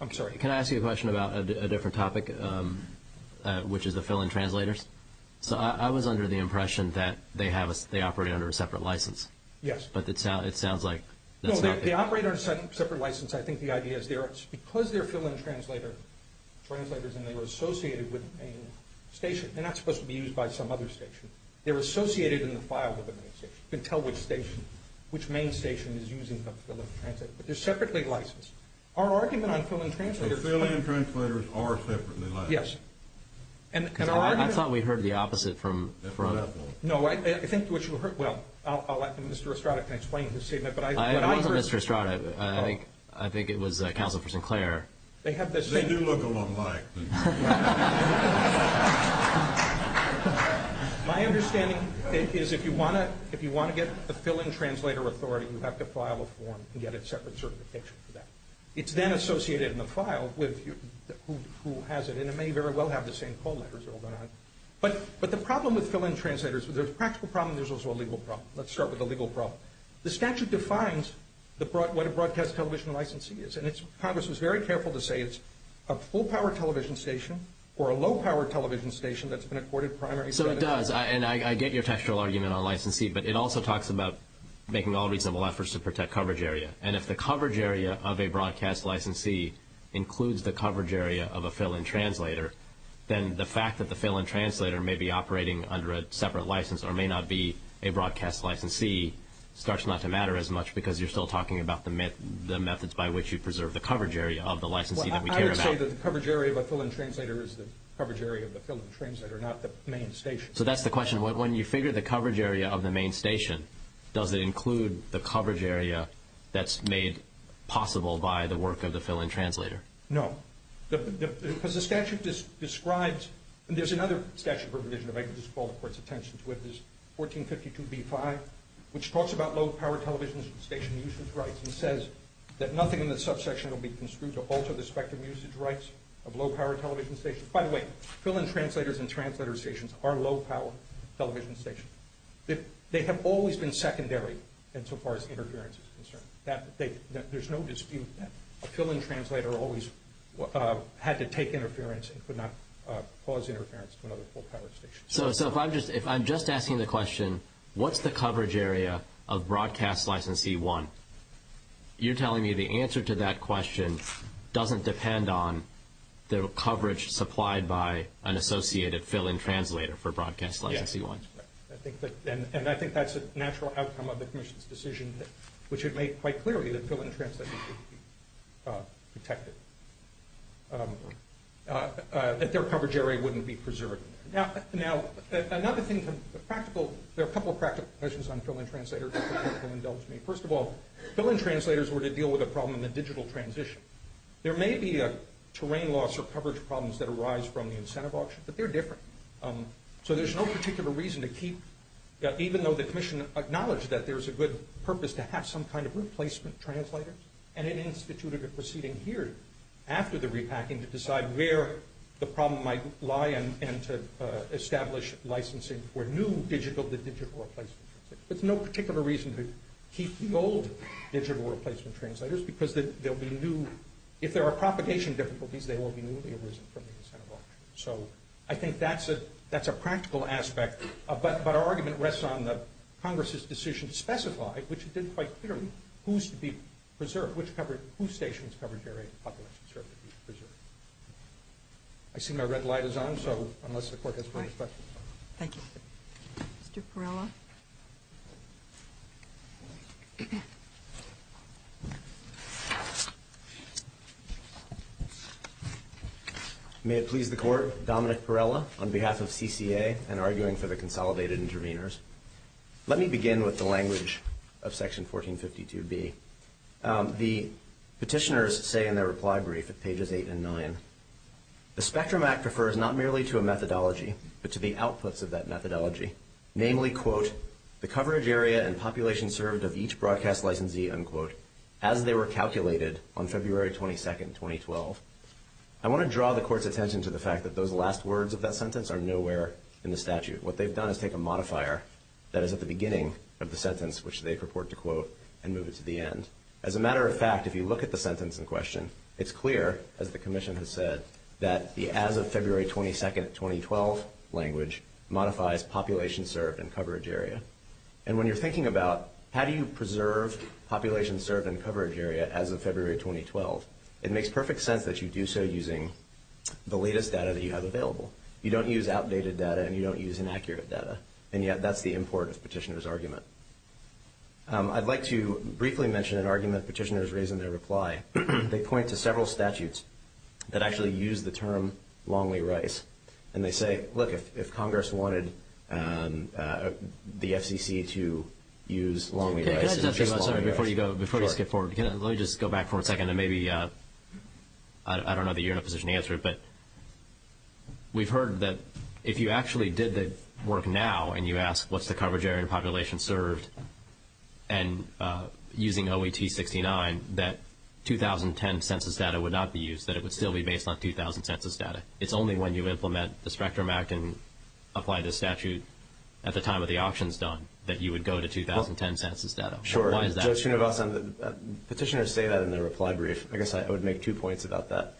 I'm sorry. Can I ask you a question about a different topic, which is the fill-in translators? I was under the impression that they operate under a separate license. Yes. But it sounds like that's not the case. No, they operate under a separate license. I think the idea is because they're fill-in translators and they were associated with a station. They're not supposed to be used by some other station. They're associated in the files of the main station. You can tell which station, which main station is using the fill-in translator, but they're separately licensed. Our argument on fill-in translators is that fill-in translators are separately licensed. Yes. I thought we heard the opposite from that point. No, I think what you heard, well, I'll let Mr. Estrada explain his statement. It wasn't Mr. Estrada. I think it was Counsel for Sinclair. They do look a lot alike. My understanding is if you want to get a fill-in translator authority, you have to file a form and get a separate certification for that. It's then associated in the file with who has it, and it may very well have the same call letters or whatnot. But the problem with fill-in translators, there's a practical problem and there's also a legal problem. Let's start with the legal problem. The statute defines what a broadcast television licensee is, and Congress was very careful to say it's a full-power television station or a low-power television station that's been accorded primary status. So it does, and I get your textual argument on licensee, but it also talks about making all reasonable efforts to protect coverage area. And if the coverage area of a broadcast licensee includes the coverage area of a fill-in translator, then the fact that the fill-in translator may be operating under a separate license or may not be a broadcast licensee starts not to matter as much because you're still talking about the methods by which you preserve the coverage area of the licensee that we care about. I would say that the coverage area of a fill-in translator is the coverage area of the fill-in translator, not the main station. So that's the question. When you figure the coverage area of the main station, does it include the coverage area that's made possible by the work of the fill-in translator? No. Because the statute describes, and there's another statute provision that I can just call the Court's attention to, but there's 1452b-5, which talks about low-power television station usage rights and says that nothing in the subsection will be construed to alter the spectrum usage rights of low-power television stations. By the way, fill-in translators and translator stations are low-power television stations. They have always been secondary insofar as interference is concerned. There's no dispute that a fill-in translator always had to take interference and could not cause interference to another full-power station. So if I'm just asking the question, what's the coverage area of Broadcast License C-1, you're telling me the answer to that question doesn't depend on the coverage supplied by an associated fill-in translator for Broadcast License C-1? Yes. And I think that's a natural outcome of the Commission's decision, which had made quite clearly that fill-in translators would be protected, that their coverage area wouldn't be preserved. Now, another thing, there are a couple of practical questions on fill-in translators, if you'll indulge me. First of all, fill-in translators were to deal with a problem in the digital transition. There may be a terrain loss or coverage problems that arise from the incentive auction, but they're different. So there's no particular reason to keep, even though the Commission acknowledged that there's a good purpose to have some kind of replacement translator, and it instituted a proceeding here after the repacking to decide where the problem might lie and to establish licensing for new digital-to-digital replacement translators. There's no particular reason to keep the old digital replacement translators because they'll be new. If there are propagation difficulties, they will be newly arisen from the incentive auction. So I think that's a practical aspect, but our argument rests on Congress's decision to specify, which it did quite clearly, whose stations' coverage area and population should be preserved. I see my red light is on, so unless the Court has further questions. Thank you. Mr. Perrella? May it please the Court, Dominic Perrella, on behalf of CCA and arguing for the consolidated interveners. Let me begin with the language of Section 1452B. The petitioners say in their reply brief at pages 8 and 9, the Spectrum Act refers not merely to a methodology but to the outputs of that methodology, namely, quote, the coverage area and population served of each broadcast licensee, unquote, as they were calculated on February 22, 2012. I want to draw the Court's attention to the fact that those last words of that sentence are nowhere in the statute. What they've done is take a modifier that is at the beginning of the sentence, which they purport to quote, and move it to the end. As a matter of fact, if you look at the sentence in question, it's clear, as the Commission has said, that the as of February 22, 2012 language modifies population served and coverage area. And when you're thinking about how do you preserve population served and coverage area as of February 2012, it makes perfect sense that you do so using the latest data that you have available. You don't use outdated data and you don't use inaccurate data. And yet that's the import of the petitioner's argument. I'd like to briefly mention an argument petitioners raise in their reply. They point to several statutes that actually use the term Longley-Rice. And they say, look, if Congress wanted the FCC to use Longley-Rice. Before you go, before you skip forward, let me just go back for a second and maybe I don't know that you're in a position to answer it, but we've heard that if you actually did the work now and you ask what's the coverage area and population served and using OET69, that 2010 census data would not be used, that it would still be based on 2000 census data. It's only when you implement the Spectrum Act and apply this statute at the time of the auctions done that you would go to 2010 census data. Sure. Petitioners say that in their reply brief. I guess I would make two points about that.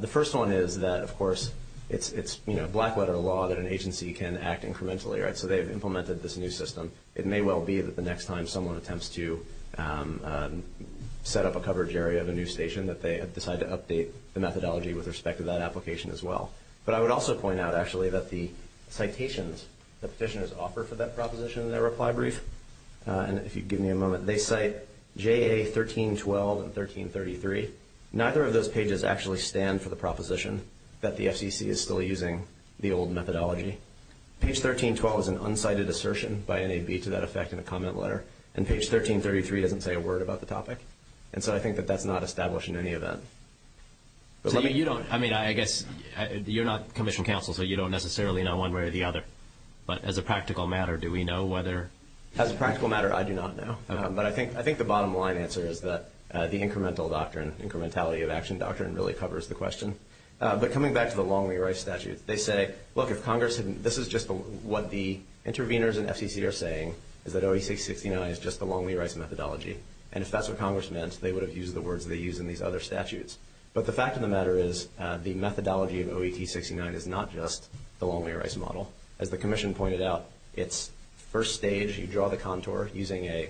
The first one is that, of course, it's black-letter law that an agency can act incrementally. So they've implemented this new system. It may well be that the next time someone attempts to set up a coverage area of a new station that they decide to update the methodology with respect to that application as well. But I would also point out, actually, that the citations that petitioners offer for that proposition in their reply brief and if you give me a moment, they cite JA1312 and 1333. Neither of those pages actually stand for the proposition that the FCC is still using the old methodology. Page 1312 is an unsighted assertion by NAB to that effect in a comment letter, and page 1333 doesn't say a word about the topic. And so I think that that's not established in any event. So you don't, I mean, I guess you're not commission counsel, so you don't necessarily know one way or the other. But as a practical matter, do we know whether? As a practical matter, I do not know. But I think the bottom line answer is that the incremental doctrine, incrementality of action doctrine, really covers the question. But coming back to the Longley-Rice statute, they say, look, if Congress had, this is just what the interveners in FCC are saying, is that OE-669 is just the Longley-Rice methodology. And if that's what Congress meant, they would have used the words they use in these other statutes. But the fact of the matter is, the methodology of OE-669 is not just the Longley-Rice model. As the commission pointed out, it's first stage, you draw the contour using a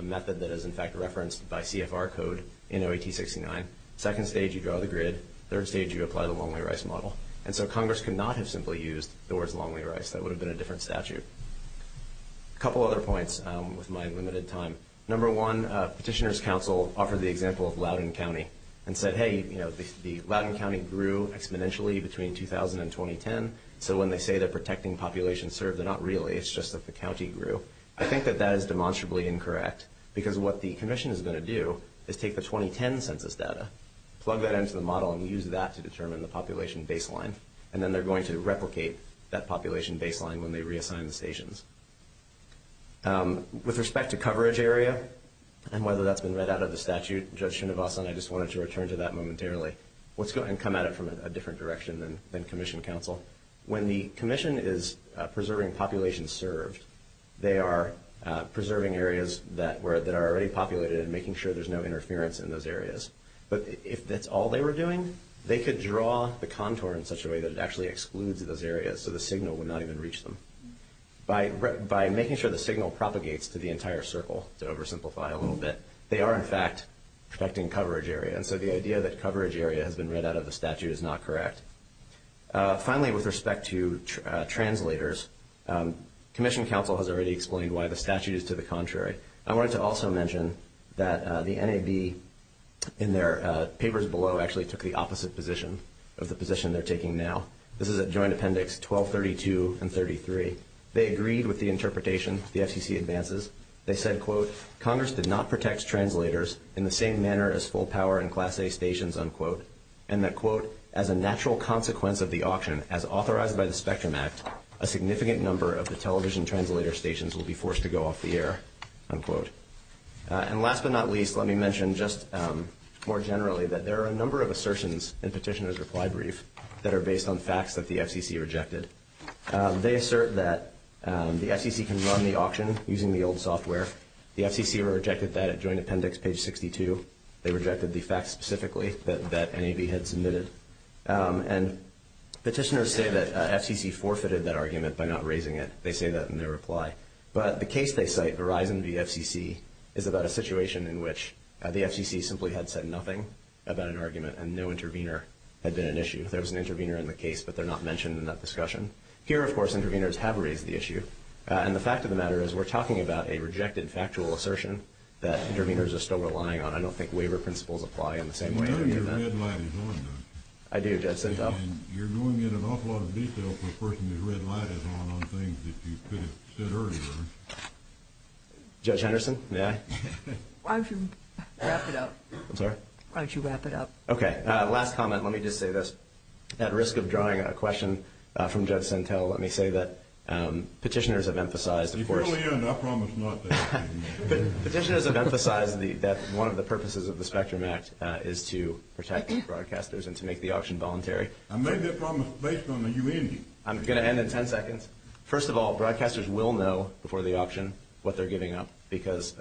method that is, in fact, referenced by CFR code in OE-669. Second stage, you draw the grid. Third stage, you apply the Longley-Rice model. And so Congress could not have simply used the words Longley-Rice. That would have been a different statute. A couple other points with my limited time. Number one, Petitioner's Council offered the example of Loudoun County and said, hey, you know, the Loudoun County grew exponentially between 2000 and 2010. So when they say they're protecting population served, they're not really. It's just that the county grew. I think that that is demonstrably incorrect. Because what the commission is going to do is take the 2010 census data, plug that into the model, and use that to determine the population baseline. And then they're going to replicate that population baseline when they reassign the stations. With respect to coverage area and whether that's been read out of the statute, Judge Shinibasa and I just wanted to return to that momentarily. Let's go ahead and come at it from a different direction than Commission Council. When the commission is preserving population served, they are preserving areas that are already populated and making sure there's no interference in those areas. But if that's all they were doing, they could draw the contour in such a way that it actually excludes those areas so the signal would not even reach them. By making sure the signal propagates to the entire circle, to oversimplify a little bit, they are, in fact, protecting coverage area. And so the idea that coverage area has been read out of the statute is not correct. Finally, with respect to translators, Commission Council has already explained why the statute is to the contrary. I wanted to also mention that the NAB in their papers below actually took the opposite position of the position they're taking now. This is a joint appendix, 1232 and 33. They agreed with the interpretation the FCC advances. They said, quote, Congress did not protect translators in the same manner as full power and Class A stations, unquote, and that, quote, as a natural consequence of the auction as authorized by the Spectrum Act, a significant number of the television translator stations will be forced to go off the air, unquote. And last but not least, let me mention just more generally that there are a number of assertions in petitioner's reply brief that are based on facts that the FCC rejected. They assert that the FCC can run the auction using the old software. The FCC rejected that at joint appendix page 62. They rejected the facts specifically that NAB had submitted. And petitioners say that FCC forfeited that argument by not raising it. They say that in their reply. But the case they cite, Verizon v. FCC, is about a situation in which the FCC simply had said nothing about an argument and no intervener had been an issue. There was an intervener in the case, but they're not mentioned in that discussion. Here, of course, interveners have raised the issue. And the fact of the matter is we're talking about a rejected factual assertion that interveners are still relying on. I don't think waiver principles apply in the same way. I know your red light is on, though. I do. And you're going in an awful lot of detail for a person whose red light is on on things that you could have said earlier. Judge Henderson, may I? Why don't you wrap it up? I'm sorry? Why don't you wrap it up? Okay. Last comment. Let me just say this. At risk of drawing a question from Judge Sentelle, let me say that petitioners have emphasized, of course. You can only end. I promise not to. Petitioners have emphasized that one of the purposes of the Spectrum Act is to protect broadcasters and to make the auction voluntary. I made that promise based on the humanity. I'm going to end in 10 seconds. First of all, broadcasters will know before the auction what they're giving up because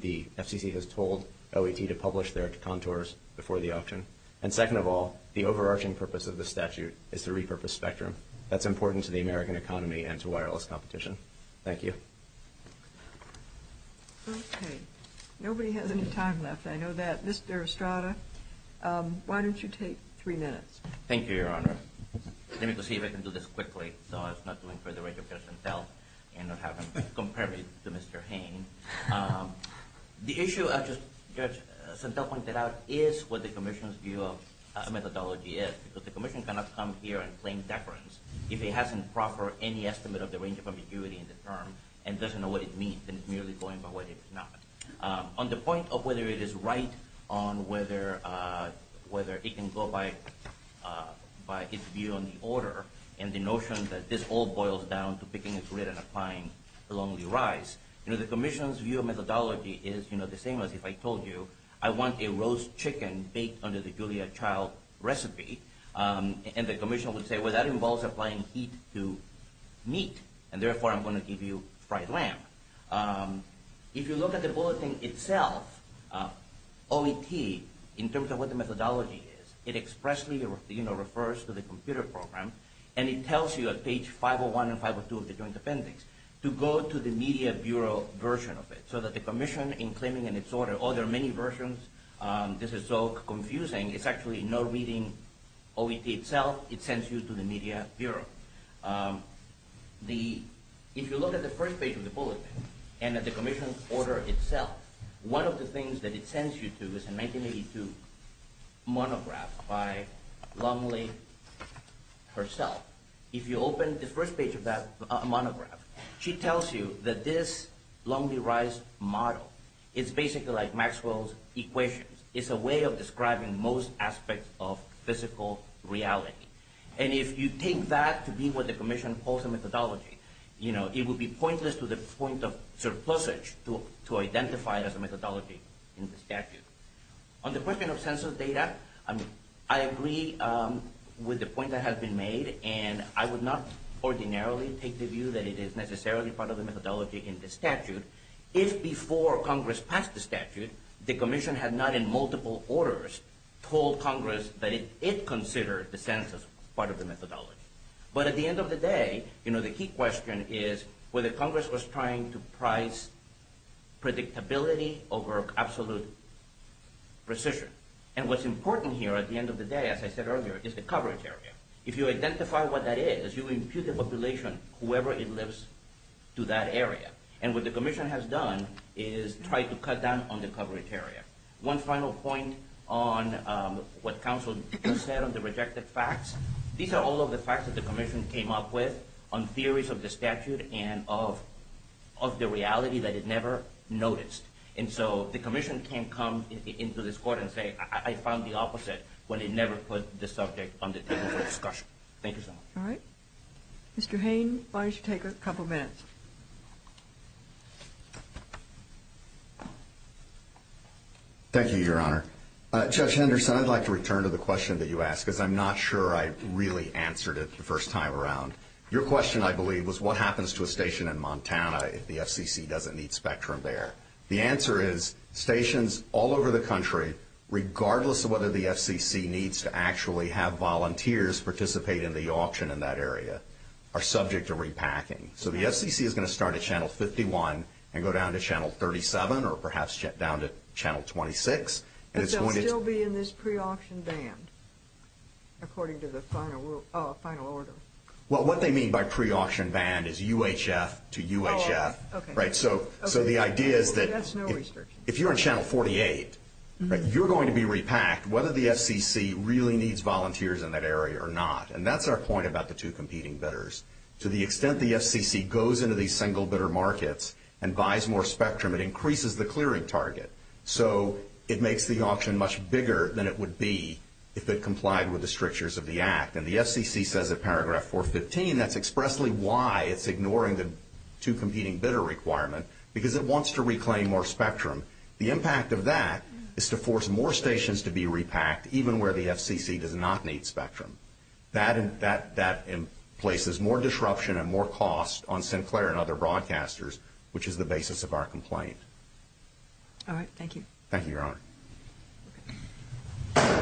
the FCC has told OAT to publish their contours before the auction. And second of all, the overarching purpose of the statute is to repurpose Spectrum. That's important to the American economy and to wireless competition. Thank you. Okay. Nobody has any time left. I know that. Mr. Estrada, why don't you take three minutes? Thank you, Your Honor. Let me just see if I can do this quickly so as not to infer the rate of Judge Sentelle and not have him compare me to Mr. Hain. The issue, as Judge Sentelle pointed out, is what the commission's view of methodology is because the commission cannot come here and claim deference if it hasn't proffered any estimate of the range of ambiguity in the term and doesn't know what it means and is merely going by what it's not. On the point of whether it is right on whether it can go by its view on the order and the notion that this all boils down to picking a grid and applying a lonely rise, the commission's view of methodology is the same as if I told you I want a roast chicken baked under the Julia Child recipe, and the commission would say, well, that involves applying heat to meat, and therefore I'm going to give you fried lamb. If you look at the bulletin itself, OET, in terms of what the methodology is, it expressly refers to the computer program, and it tells you at page 501 and 502 of the joint appendix to go to the media bureau version of it so that the commission, in claiming in its order, oh, there are many versions. This is so confusing. It's actually no reading OET itself. It sends you to the media bureau. If you look at the first page of the bulletin and at the commission's order itself, one of the things that it sends you to is a 1982 monograph by Lumley herself. If you open the first page of that monograph, she tells you that this lonely rise model is basically like Maxwell's equations. It's a way of describing most aspects of physical reality. And if you take that to be what the commission calls a methodology, you know, it would be pointless to the point of surplusage to identify it as a methodology in the statute. On the question of census data, I agree with the point that has been made, and I would not ordinarily take the view that it is necessarily part of the methodology in the statute. If before Congress passed the statute, the commission had not in multiple orders told Congress that it considered the census part of the methodology. But at the end of the day, you know, the key question is whether Congress was trying to price predictability over absolute precision. And what's important here at the end of the day, as I said earlier, is the coverage area. If you identify what that is, you impute the population, whoever it lives to that area. And what the commission has done is try to cut down on the coverage area. One final point on what counsel just said on the rejected facts. These are all of the facts that the commission came up with on theories of the statute and of the reality that it never noticed. And so the commission can come into this court and say, I found the opposite when it never put the subject on the table for discussion. Thank you so much. All right. Mr. Hayne, why don't you take a couple minutes? Thank you, Your Honor. Judge Henderson, I'd like to return to the question that you asked because I'm not sure I really answered it the first time around. Your question, I believe, was what happens to a station in Montana if the FCC doesn't need spectrum there? The answer is stations all over the country, regardless of whether the FCC needs to actually have volunteers participate in the auction in that area, are subject to repacking. So the FCC is going to start at Channel 51 and go down to Channel 37 or perhaps down to Channel 26. But they'll still be in this pre-auction band, according to the final order. Well, what they mean by pre-auction band is UHF to UHF. So the idea is that if you're in Channel 48, you're going to be repacked whether the FCC really needs volunteers in that area or not. And that's our point about the two competing bidders. To the extent the FCC goes into these single bidder markets and buys more spectrum, it increases the clearing target. So it makes the auction much bigger than it would be if it complied with the strictures of the Act. And the FCC says in paragraph 415 that's expressly why it's ignoring the two competing bidder requirement, because it wants to reclaim more spectrum. The impact of that is to force more stations to be repacked, even where the FCC does not need spectrum. That places more disruption and more cost on Sinclair and other broadcasters, which is the basis of our complaint. All right. Thank you. Thank you, Your Honor.